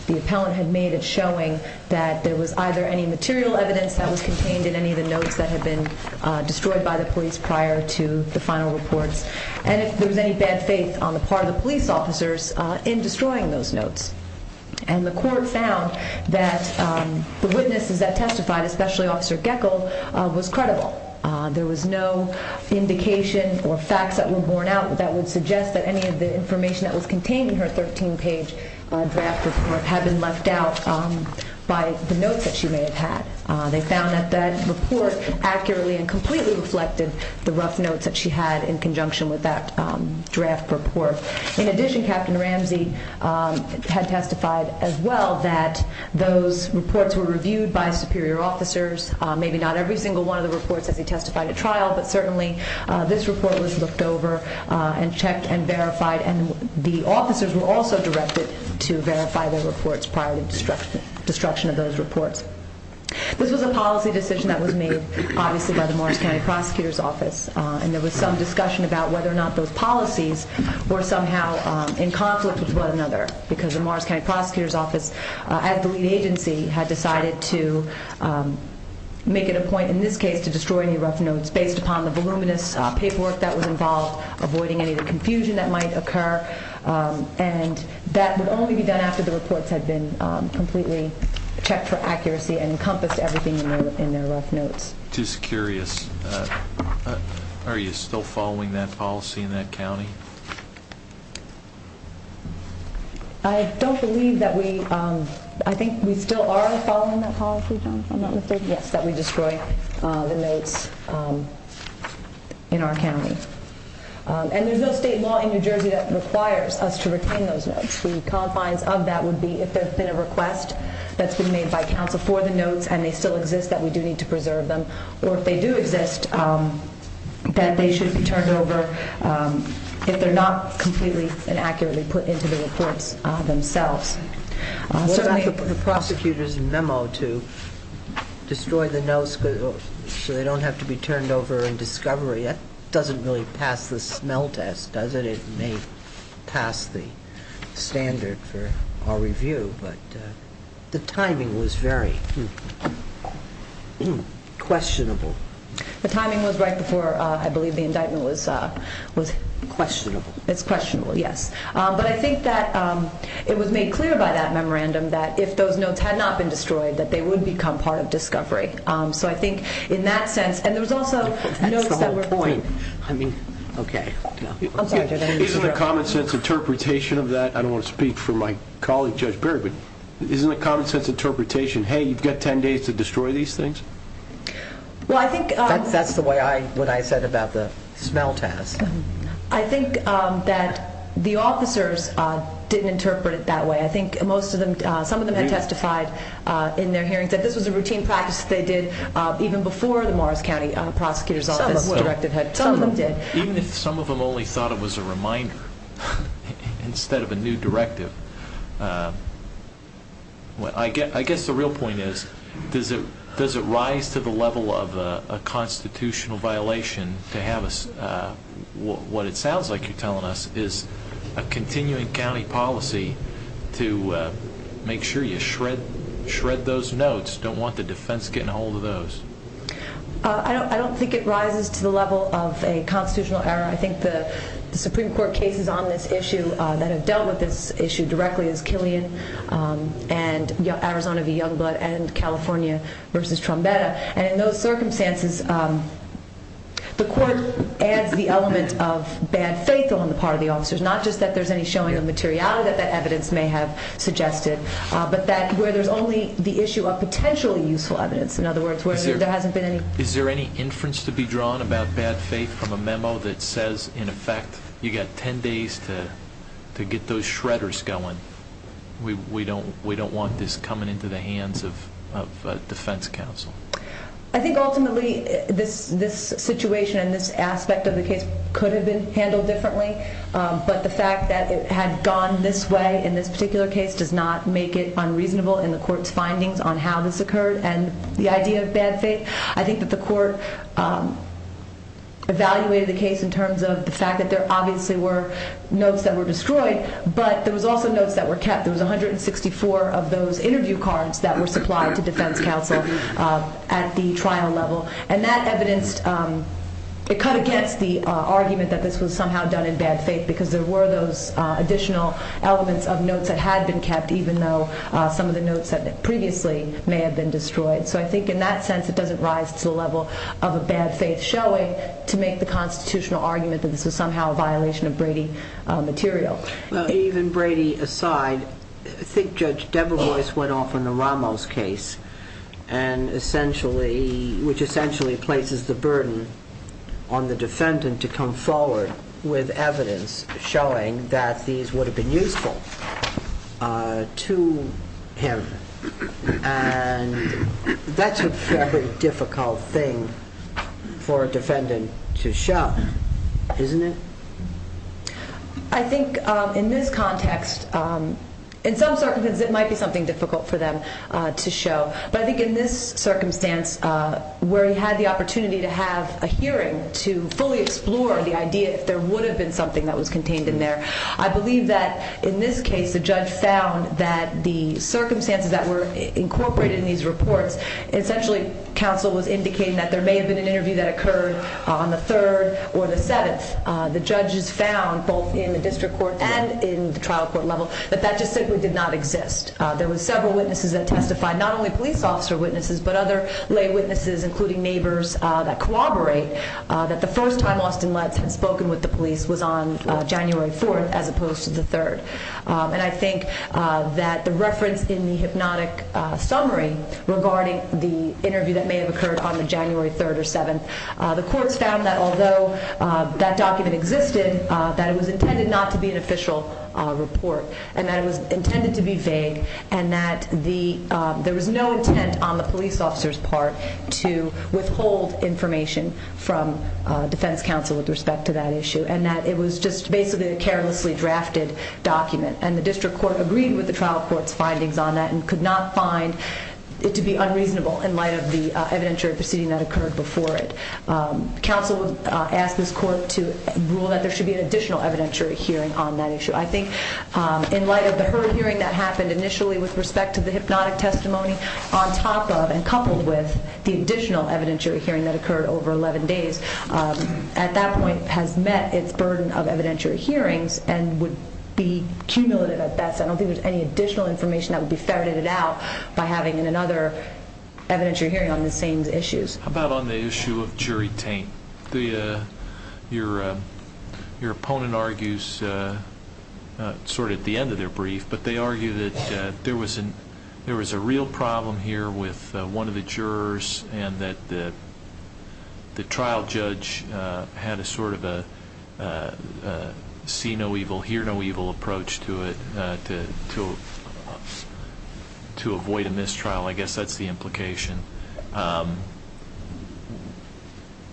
the appellant had made a showing that there was either any material evidence that was contained in any of the notes that had been destroyed by the police prior to the final report, and if there was any bad faith on the part of the police officers in destroying those notes. And the court found that the witnesses that testified, especially Officer Geckel, was credible. There was no indication or facts that were borne out that would suggest that any of the information that was contained in her 13-page draft had been left out by the notes that she may have had. They found that that report accurately and completely reflected the rough notes that she had in conjunction with that draft report. In addition, Captain Ramsey had testified as well that those reports were reviewed by superior officers, maybe not every single one of the reports that they testified at trial, but certainly this report was looked over and checked and verified, and the officers were also directed to verify those reports prior to the destruction of those reports. This was a policy decision that was made, obviously, by the Montana Prosecutor's Office, and there was some discussion about whether or not those policies were somehow in conflict with one another because the Morris County Prosecutor's Office, as the lead agency, had decided to make it a point in this case to destroy any rough notes based upon the voluminous paperwork that was involved, avoiding any of the confusion that might occur, and that would only be done after the reports had been completely checked for accuracy and encompassed everything in their rough notes. I'm just curious. Are you still following that policy in that county? I don't believe that we... I think we still are following that policy, John, that we destroyed the notes in our county, and there's no state law in New Jersey that requires us to retain those notes. The compliance of that would be if there's been a request that's been made by counsel for the notes and they still exist, that we do need to preserve them, or if they do exist, that they should be turned over if they're not completely and accurately put into the reports themselves. The prosecutors' memo to destroy the notes so they don't have to be turned over in discovery, that doesn't really pass the smell test, does it? It may pass the standard for our review, but the timing was very questionable. The timing was right before, I believe, the indictment was... Questionable. It's questionable, yes. But I think that it was made clear by that memorandum that if those notes had not been destroyed, that they would become part of discovery. So I think in that sense, and there was also notes that were... That's the whole point. I mean, okay. Is there a common-sense interpretation of that? I don't want to speak for my colleague, Judge Berry, but is there a common-sense interpretation, hey, you've got ten days to destroy these things? Well, I think... That's the way I would have said about the smell test. I think that the officers didn't interpret it that way. I think most of them, some of them had testified in their hearings that this was a routine practice they did even before the Morris County Prosecutors Office. Some of them did. Instead of a new directive. I guess the real point is, does it rise to the level of a constitutional violation to have a... What it sounds like you're telling us is a continuing county policy to make sure you shred those notes, don't want the defense getting a hold of those. I don't think it rises to the level of a constitutional error. I think the Supreme Court cases on this issue that have dealt with this issue directly is Killian and Arizona v. Youngblood and California v. Trombetta. And in those circumstances, the courts add the element of bad faith on the part of the officers, not just that there's any showing of materiality that that evidence may have suggested, but that where there's only the issue of potentially useful evidence. In other words, where there hasn't been any... The Supreme Court says, in effect, you've got 10 days to get those shredders going. We don't want this coming into the hands of defense counsel. I think ultimately this situation and this aspect of the case could have been handled differently, but the fact that it had gone this way in this particular case does not make it unreasonable in the court's findings on how this occurred and the idea of bad faith. I think that the court evaluated the case in terms of the fact that there obviously were notes that were destroyed, but there was also notes that were kept. There was 164 of those interview cards that were supplied to defense counsel at the trial level. And that evidence, it cut against the argument that this was somehow done in bad faith because there were those additional elements of notes that had been kept, even though some of the notes had previously may have been destroyed. So I think in that sense it doesn't rise to the level of a bad faith showing to make the constitutional argument that this is somehow a violation of Brady material. Even Brady aside, I think Judge Debevoise went off on the Ramos case, which essentially places the burden on the defendant to come forward with evidence showing that these would have been useful to him. And that's a very difficult thing for a defendant to show, isn't it? I think in this context, in some circumstances it might be something difficult for them to show. But I think in this circumstance where he had the opportunity to have a hearing to fully explore the idea if there would have been something that was contained in there, I believe that in this case the judge found that the circumstances that were incorporated in these reports, essentially counsel was indicating that there may have been an interview that occurred on the 3rd or the 7th. The judge found both in the district court and in the trial court level that that just simply did not exist. There were several witnesses that testified, not only police officer witnesses, but other lay witnesses, including neighbors that corroborate, that the first time Austin Lett had spoken with the police was on January 4th as opposed to the 3rd. And I think that the reference in the hypnotic summary regarding the interview that may have occurred on the January 3rd or 7th, the court found that although that document existed, that it was intended not to be an official report, and that it was intended to be vague, and that there was no intent on the police officer's part to withhold information from defense counsel with respect to that issue, and that it was just basically a carelessly drafted document. And the district court agreed with the trial court's findings on that and could not find it to be unreasonable in light of the evidentiary proceeding that occurred before it. Counsel asked this court to rule that there should be an additional evidentiary hearing on that issue. I think in light of the heard hearing that happened initially with respect to the hypnotic testimony on top of and coupled with the additional evidentiary hearing that occurred over 11 days, at that point has met its burden of evidentiary hearings and would be cumulative at best. I don't think there's any additional information that would be segregated out by having another evidentiary hearing on the same issues. How about on the issue of jury taint? Your opponent argues sort of at the end of their brief, but they argue that there was a real problem here with one of the jurors and that the trial judge had a sort of a see no evil, hear no evil approach to it to avoid a mistrial. I guess that's the implication.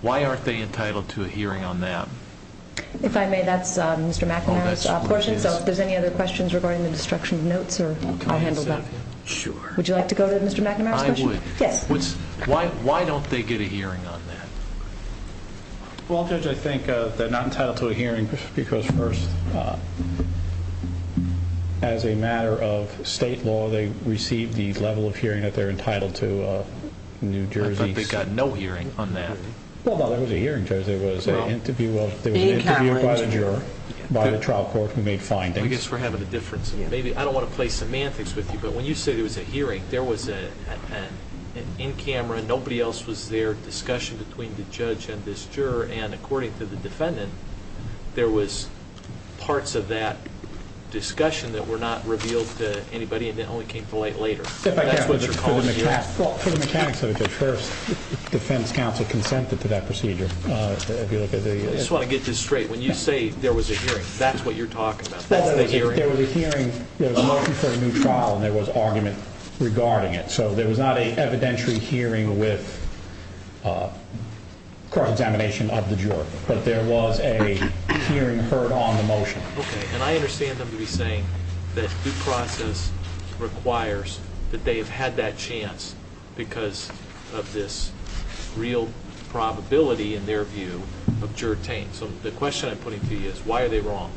Why aren't they entitled to a hearing on that? If I may, that's Mr. McNamara's question. If there's any other questions regarding the destruction of notes, I'll handle that. Would you like to go to Mr. McNamara's question? Why don't they get a hearing on that? Well, I think they're not entitled to a hearing because as a matter of state law, they receive the level of hearing that they're entitled to in New Jersey. The public's got no hearing on that. Well, there was a hearing, Judge. There was an interview of a juror by the trial court who made findings. I guess we're having a difference. I don't want to play semantics with you, but when you say there was a hearing, there was an in camera, nobody else was there, discussion between the judge and this juror, and according to the defendant, there was parts of that discussion that were not revealed to anybody and that only came to light later. That's what you're calling a hearing. Well, to the mechanics of it, Judge, the defense counsel confronted to that procedure. I just want to get this straight. When you say there was a hearing, that's what you're talking about? There was a hearing. There was a motion for a new trial and there was argument regarding it. So there was not an evidentiary hearing with cross-examination of the juror, but there was a hearing heard on the motion. Okay, and I understand them to be saying that due process requires that they have had that chance because of this real probability, in their view, of juror taint. So the question I'm putting to you is why are they wrong?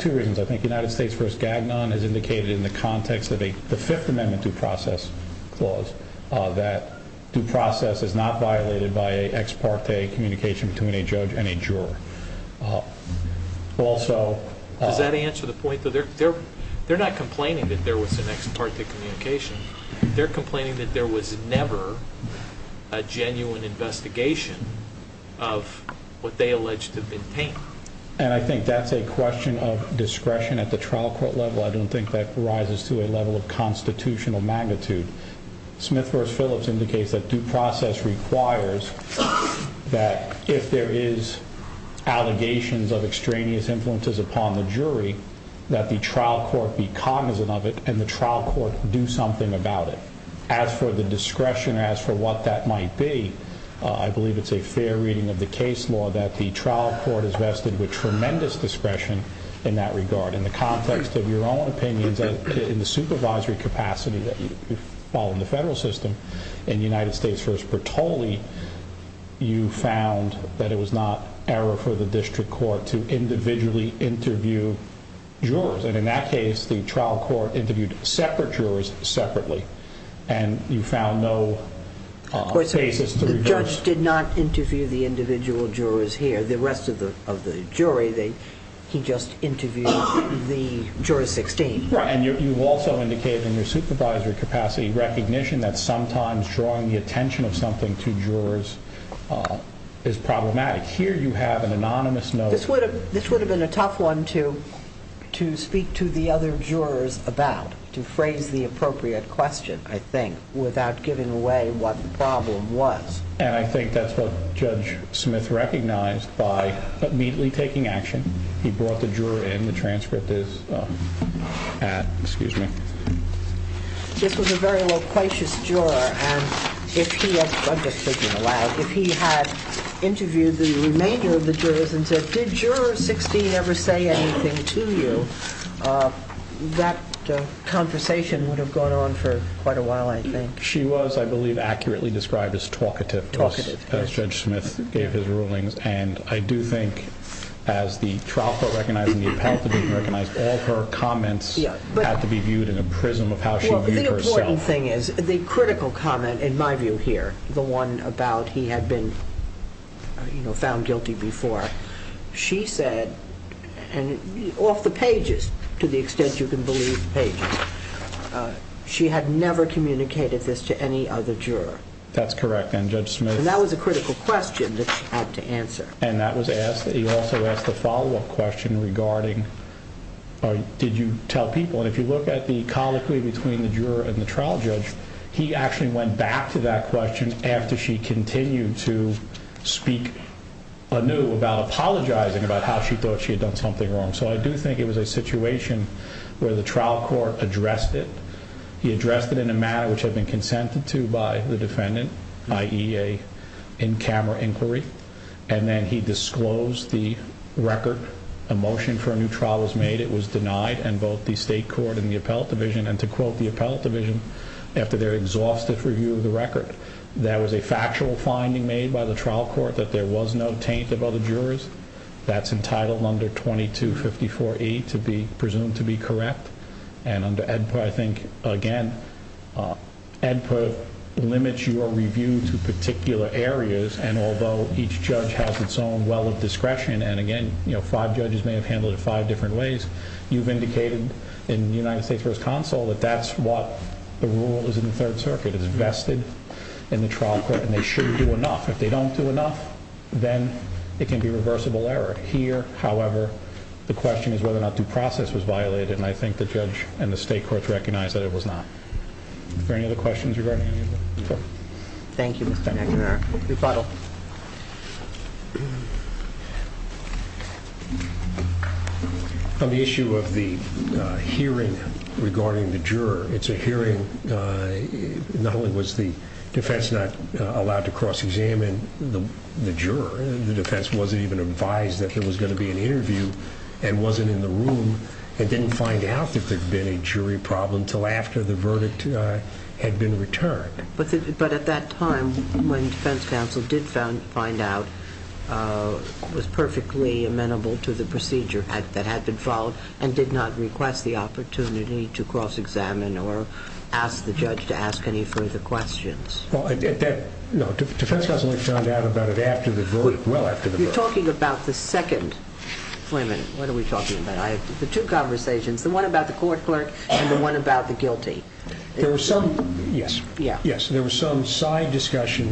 Two reasons. I think United States v. Gavilan has indicated in the context of the Fifth Amendment due process clause that due process is not violated by ex parte communication between a judge and a juror. Does that answer the point? They're not complaining that there was an ex parte communication. They're complaining that there was never a genuine investigation of what they allege to have been taint. And I think that's a question of discretion at the trial court level. I don't think that rises to a level of constitutional magnitude. Smith v. Phillips indicates that due process requires that if there is allegations of extraneous influences upon the jury, that the trial court be cognizant of it and the trial court do something about it. As for the discretion as for what that might be, I believe it's a fair reading of the case law that the trial court is vested with tremendous discretion in that regard. In the context of your own opinion, in the supervisory capacity that you follow in the federal system, in United States v. Pertoli, you found that it was not error for the district court to individually interview jurors. And in that case, the trial court interviewed separate jurors separately. And you found no basis to reverse. The judge did not interview the individual jurors here. The rest of the jury, he just interviewed the juror 16. Right. And you've also indicated in your supervisory capacity recognition that sometimes drawing the attention of something to jurors is problematic. Here you have an anonymous note. This would have been a tough one to speak to the other jurors about, to frame the appropriate question, I think, without giving away what the problem was. And I think that's what Judge Smith recognized by immediately taking action. He brought the juror in. The transcript is at, excuse me. This was a very loquacious juror. And if he had interviewed the remainder of the jurors and said, did juror 16 ever say anything to you, that conversation would have gone on for quite a while, I think. She was, I believe, accurately described as talkative. Talkative. As Judge Smith gave his rulings. And I do think, as the trial court recognized, and you have to be recognized, all her comments have to be viewed in the prism of how she viewed herself. Well, the important thing is, the critical comment, in my view here, the one about he had been found guilty before, she said, and off the pages, to the extent you can believe the pages, she had never communicated this to any other juror. That's correct. And Judge Smith. And that was a critical question that she had to answer. And that was asked. He also asked a follow-up question regarding did you tell people. And if you look at the colloquy between the juror and the trial judge, he actually went back to that question after she continued to speak anew about apologizing, about how she thought she had done something wrong. So I do think it was a situation where the trial court addressed it. He addressed it in a manner which had been consented to by the defendant, i.e., a in-camera inquiry. And then he disclosed the record. A motion for a new trial was made. It was denied, and both the state court and the appellate division, and to quote the appellate division, after their exhaustive review of the record, there was a factual finding made by the trial court that there was no taint of other jurors. That's entitled under 2254E to be presumed to be correct. And under EDPA, I think, again, EDPA limits your review to particular areas, and although each judge has its own well of discretion, and, again, five judges may have handled it five different ways, you've indicated in the United States First Counsel that that's what the rule is in the Third Circuit. It's vested in the trial court, and they should do enough. If they don't do enough, then it can be reversible error. Here, however, the question is whether or not due process was violated, and I think the judge and the state court recognized that it was not. Are there any other questions regarding the hearing? Thank you, Mr. McNair. Rebuttal. On the issue of the hearing regarding the juror, it's a hearing. Not only was the defense not allowed to cross-examine the juror, the defense wasn't even advised that there was going to be an interview and wasn't in the room and didn't find out if there had been a jury problem until after the verdict had been returned. But at that time, when defense counsel did find out, it was perfectly amenable to the procedure that had been followed and did not request the opportunity to cross-examine or ask the judge to ask any further questions. No, defense counsel only found out about it well after the verdict. You're talking about the second. Wait a minute, what are we talking about? I have two conversations, the one about the court clerk and the one about the guilty. Yes, there was some side discussion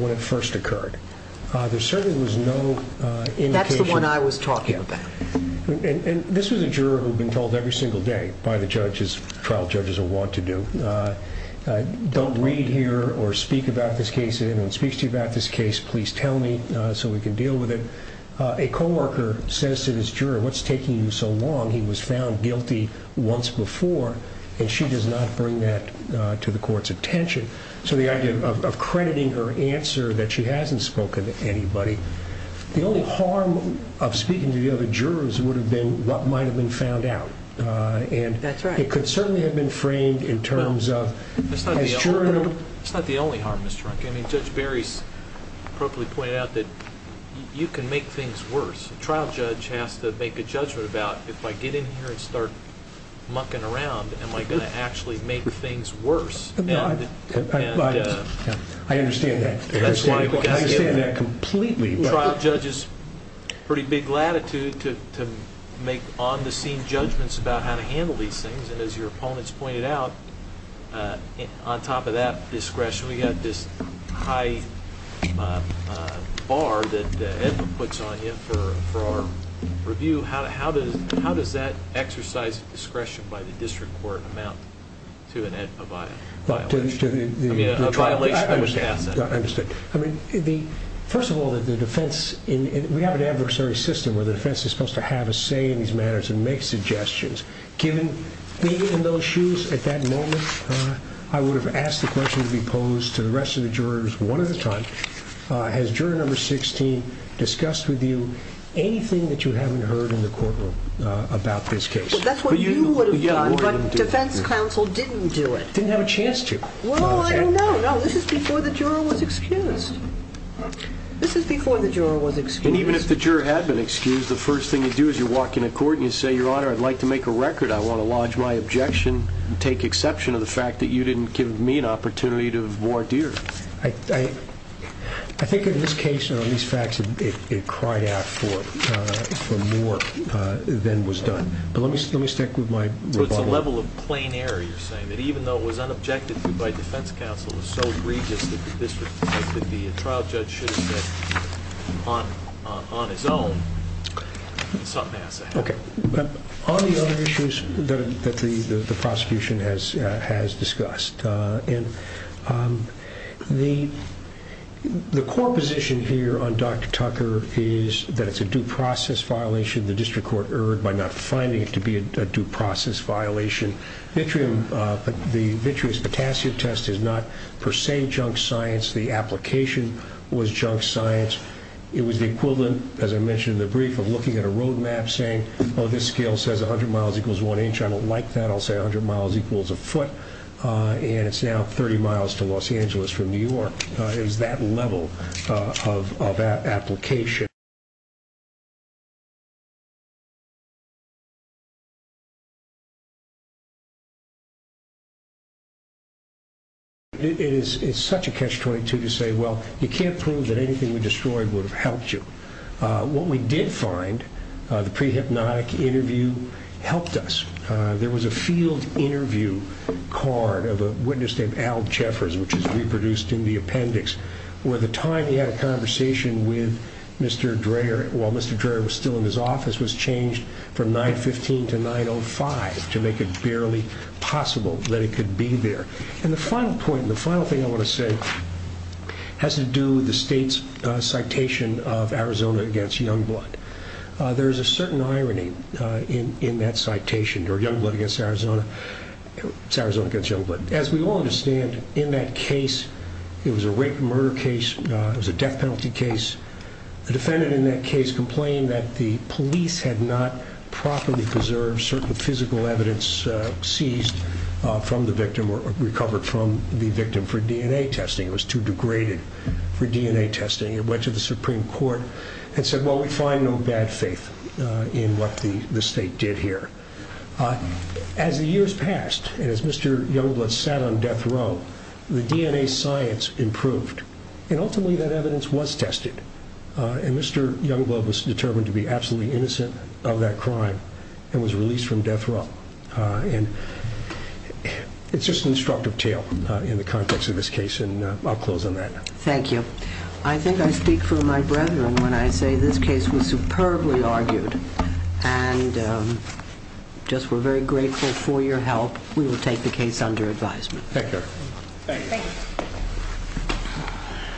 when it first occurred. There certainly was no indication. That's the one I was talking about. And this was a juror who had been told every single day by the trial judges of what to do. Don't read here or speak about this case. If anyone speaks to you about this case, please tell me so we can deal with it. A co-worker says to this juror, what's taking you so long? He was found guilty once before, and she does not bring that to the court's attention. So the idea of crediting her answer that she hasn't spoken to anybody. The only harm of speaking to the other jurors would have been what might have been found out. That's right. It could certainly have been framed in terms of. It's not the only harm, Mr. Harkin. Judge Berry probably pointed out that you can make things worse. The trial judge has to make a judgment about if I get in here and start mucking around, am I going to actually make things worse? I understand that. I understand that completely. The trial judge has pretty big latitude to make on-the-scene judgments about how to handle these things. And as your opponents pointed out, on top of that discretion, we've got this high bar that Edwin puts on you for review. How does that exercise discretion by the district court amount to an Edwin-provided violation? I understand. First of all, we have an adversary system where the defense is supposed to have a say in these matters and make suggestions. Being in those shoes at that moment, I would have asked the question to be posed to the rest of the jurors one at a time. Has juror number 16 discussed with you anything that you haven't heard in the courtroom about this case? That's what you would have done, but the defense counsel didn't do it. Didn't have a chance to. Well, I don't know. This is before the juror was excused. This is before the juror was excused. And even if the juror had been excused, the first thing you do is you walk into court and you say, Your Honor, I'd like to make a record. I want to lodge my objection and take exception to the fact that you didn't give me an opportunity to wardeer. I think in this case, in all these facts, it cried out for more than was done. But let me stick with my rebuttal. But the level of plain error you're saying, that even though it was unobjected by defense counsel, it was so egregious that the trial judge should have been on his own, something has to happen. Okay. But on the other issues that the prosecution has discussed, the core position here on Dr. Tucker is that it's a due process violation. The district court erred by not finding it to be a due process violation. The vitreous potassium test is not per se junk science. The application was junk science. It was the equivalent, as I mentioned in the brief, of looking at a road map saying, Oh, this scale says 100 miles equals one inch. I don't like that. I'll say 100 miles equals a foot. And it's now 30 miles to Los Angeles from New York. It is that level of application. It's such a catch-22 to say, well, you can't prove that anything we destroyed would have helped you. What we did find, the pre-hypnotic interview helped us. There was a field interview card of a witness named Al Jeffers, which is reproduced in the appendix, where at the time he had a conversation with Mr. Tucker, Mr. Dreher, while Mr. Dreher was still in his office, was changed from 915 to 905 to make it barely possible that he could be there. And the final point, the final thing I want to say, has to do with the state's citation of Arizona against Youngblood. There is a certain irony in that citation, or Youngblood against Arizona. It's Arizona against Youngblood. As we all understand, in that case, it was a rape and murder case. It was a death penalty case. The defendant in that case complained that the police had not properly preserved certain physical evidence seized from the victim or recovered from the victim for DNA testing. It was too degraded for DNA testing. It went to the Supreme Court and said, well, we find no bad faith in what the state did here. As the years passed, as Mr. Youngblood sat on death row, the DNA science improved. And ultimately, that evidence was tested, and Mr. Youngblood was determined to be absolutely innocent of that crime and was released from death row. And it's just an instructive tale in the context of this case, and I'll close on that. Thank you. I think I speak for my brethren when I say this case was superbly argued, and just we're very grateful for your help. We will take the case under advisement. Thank you. Thank you.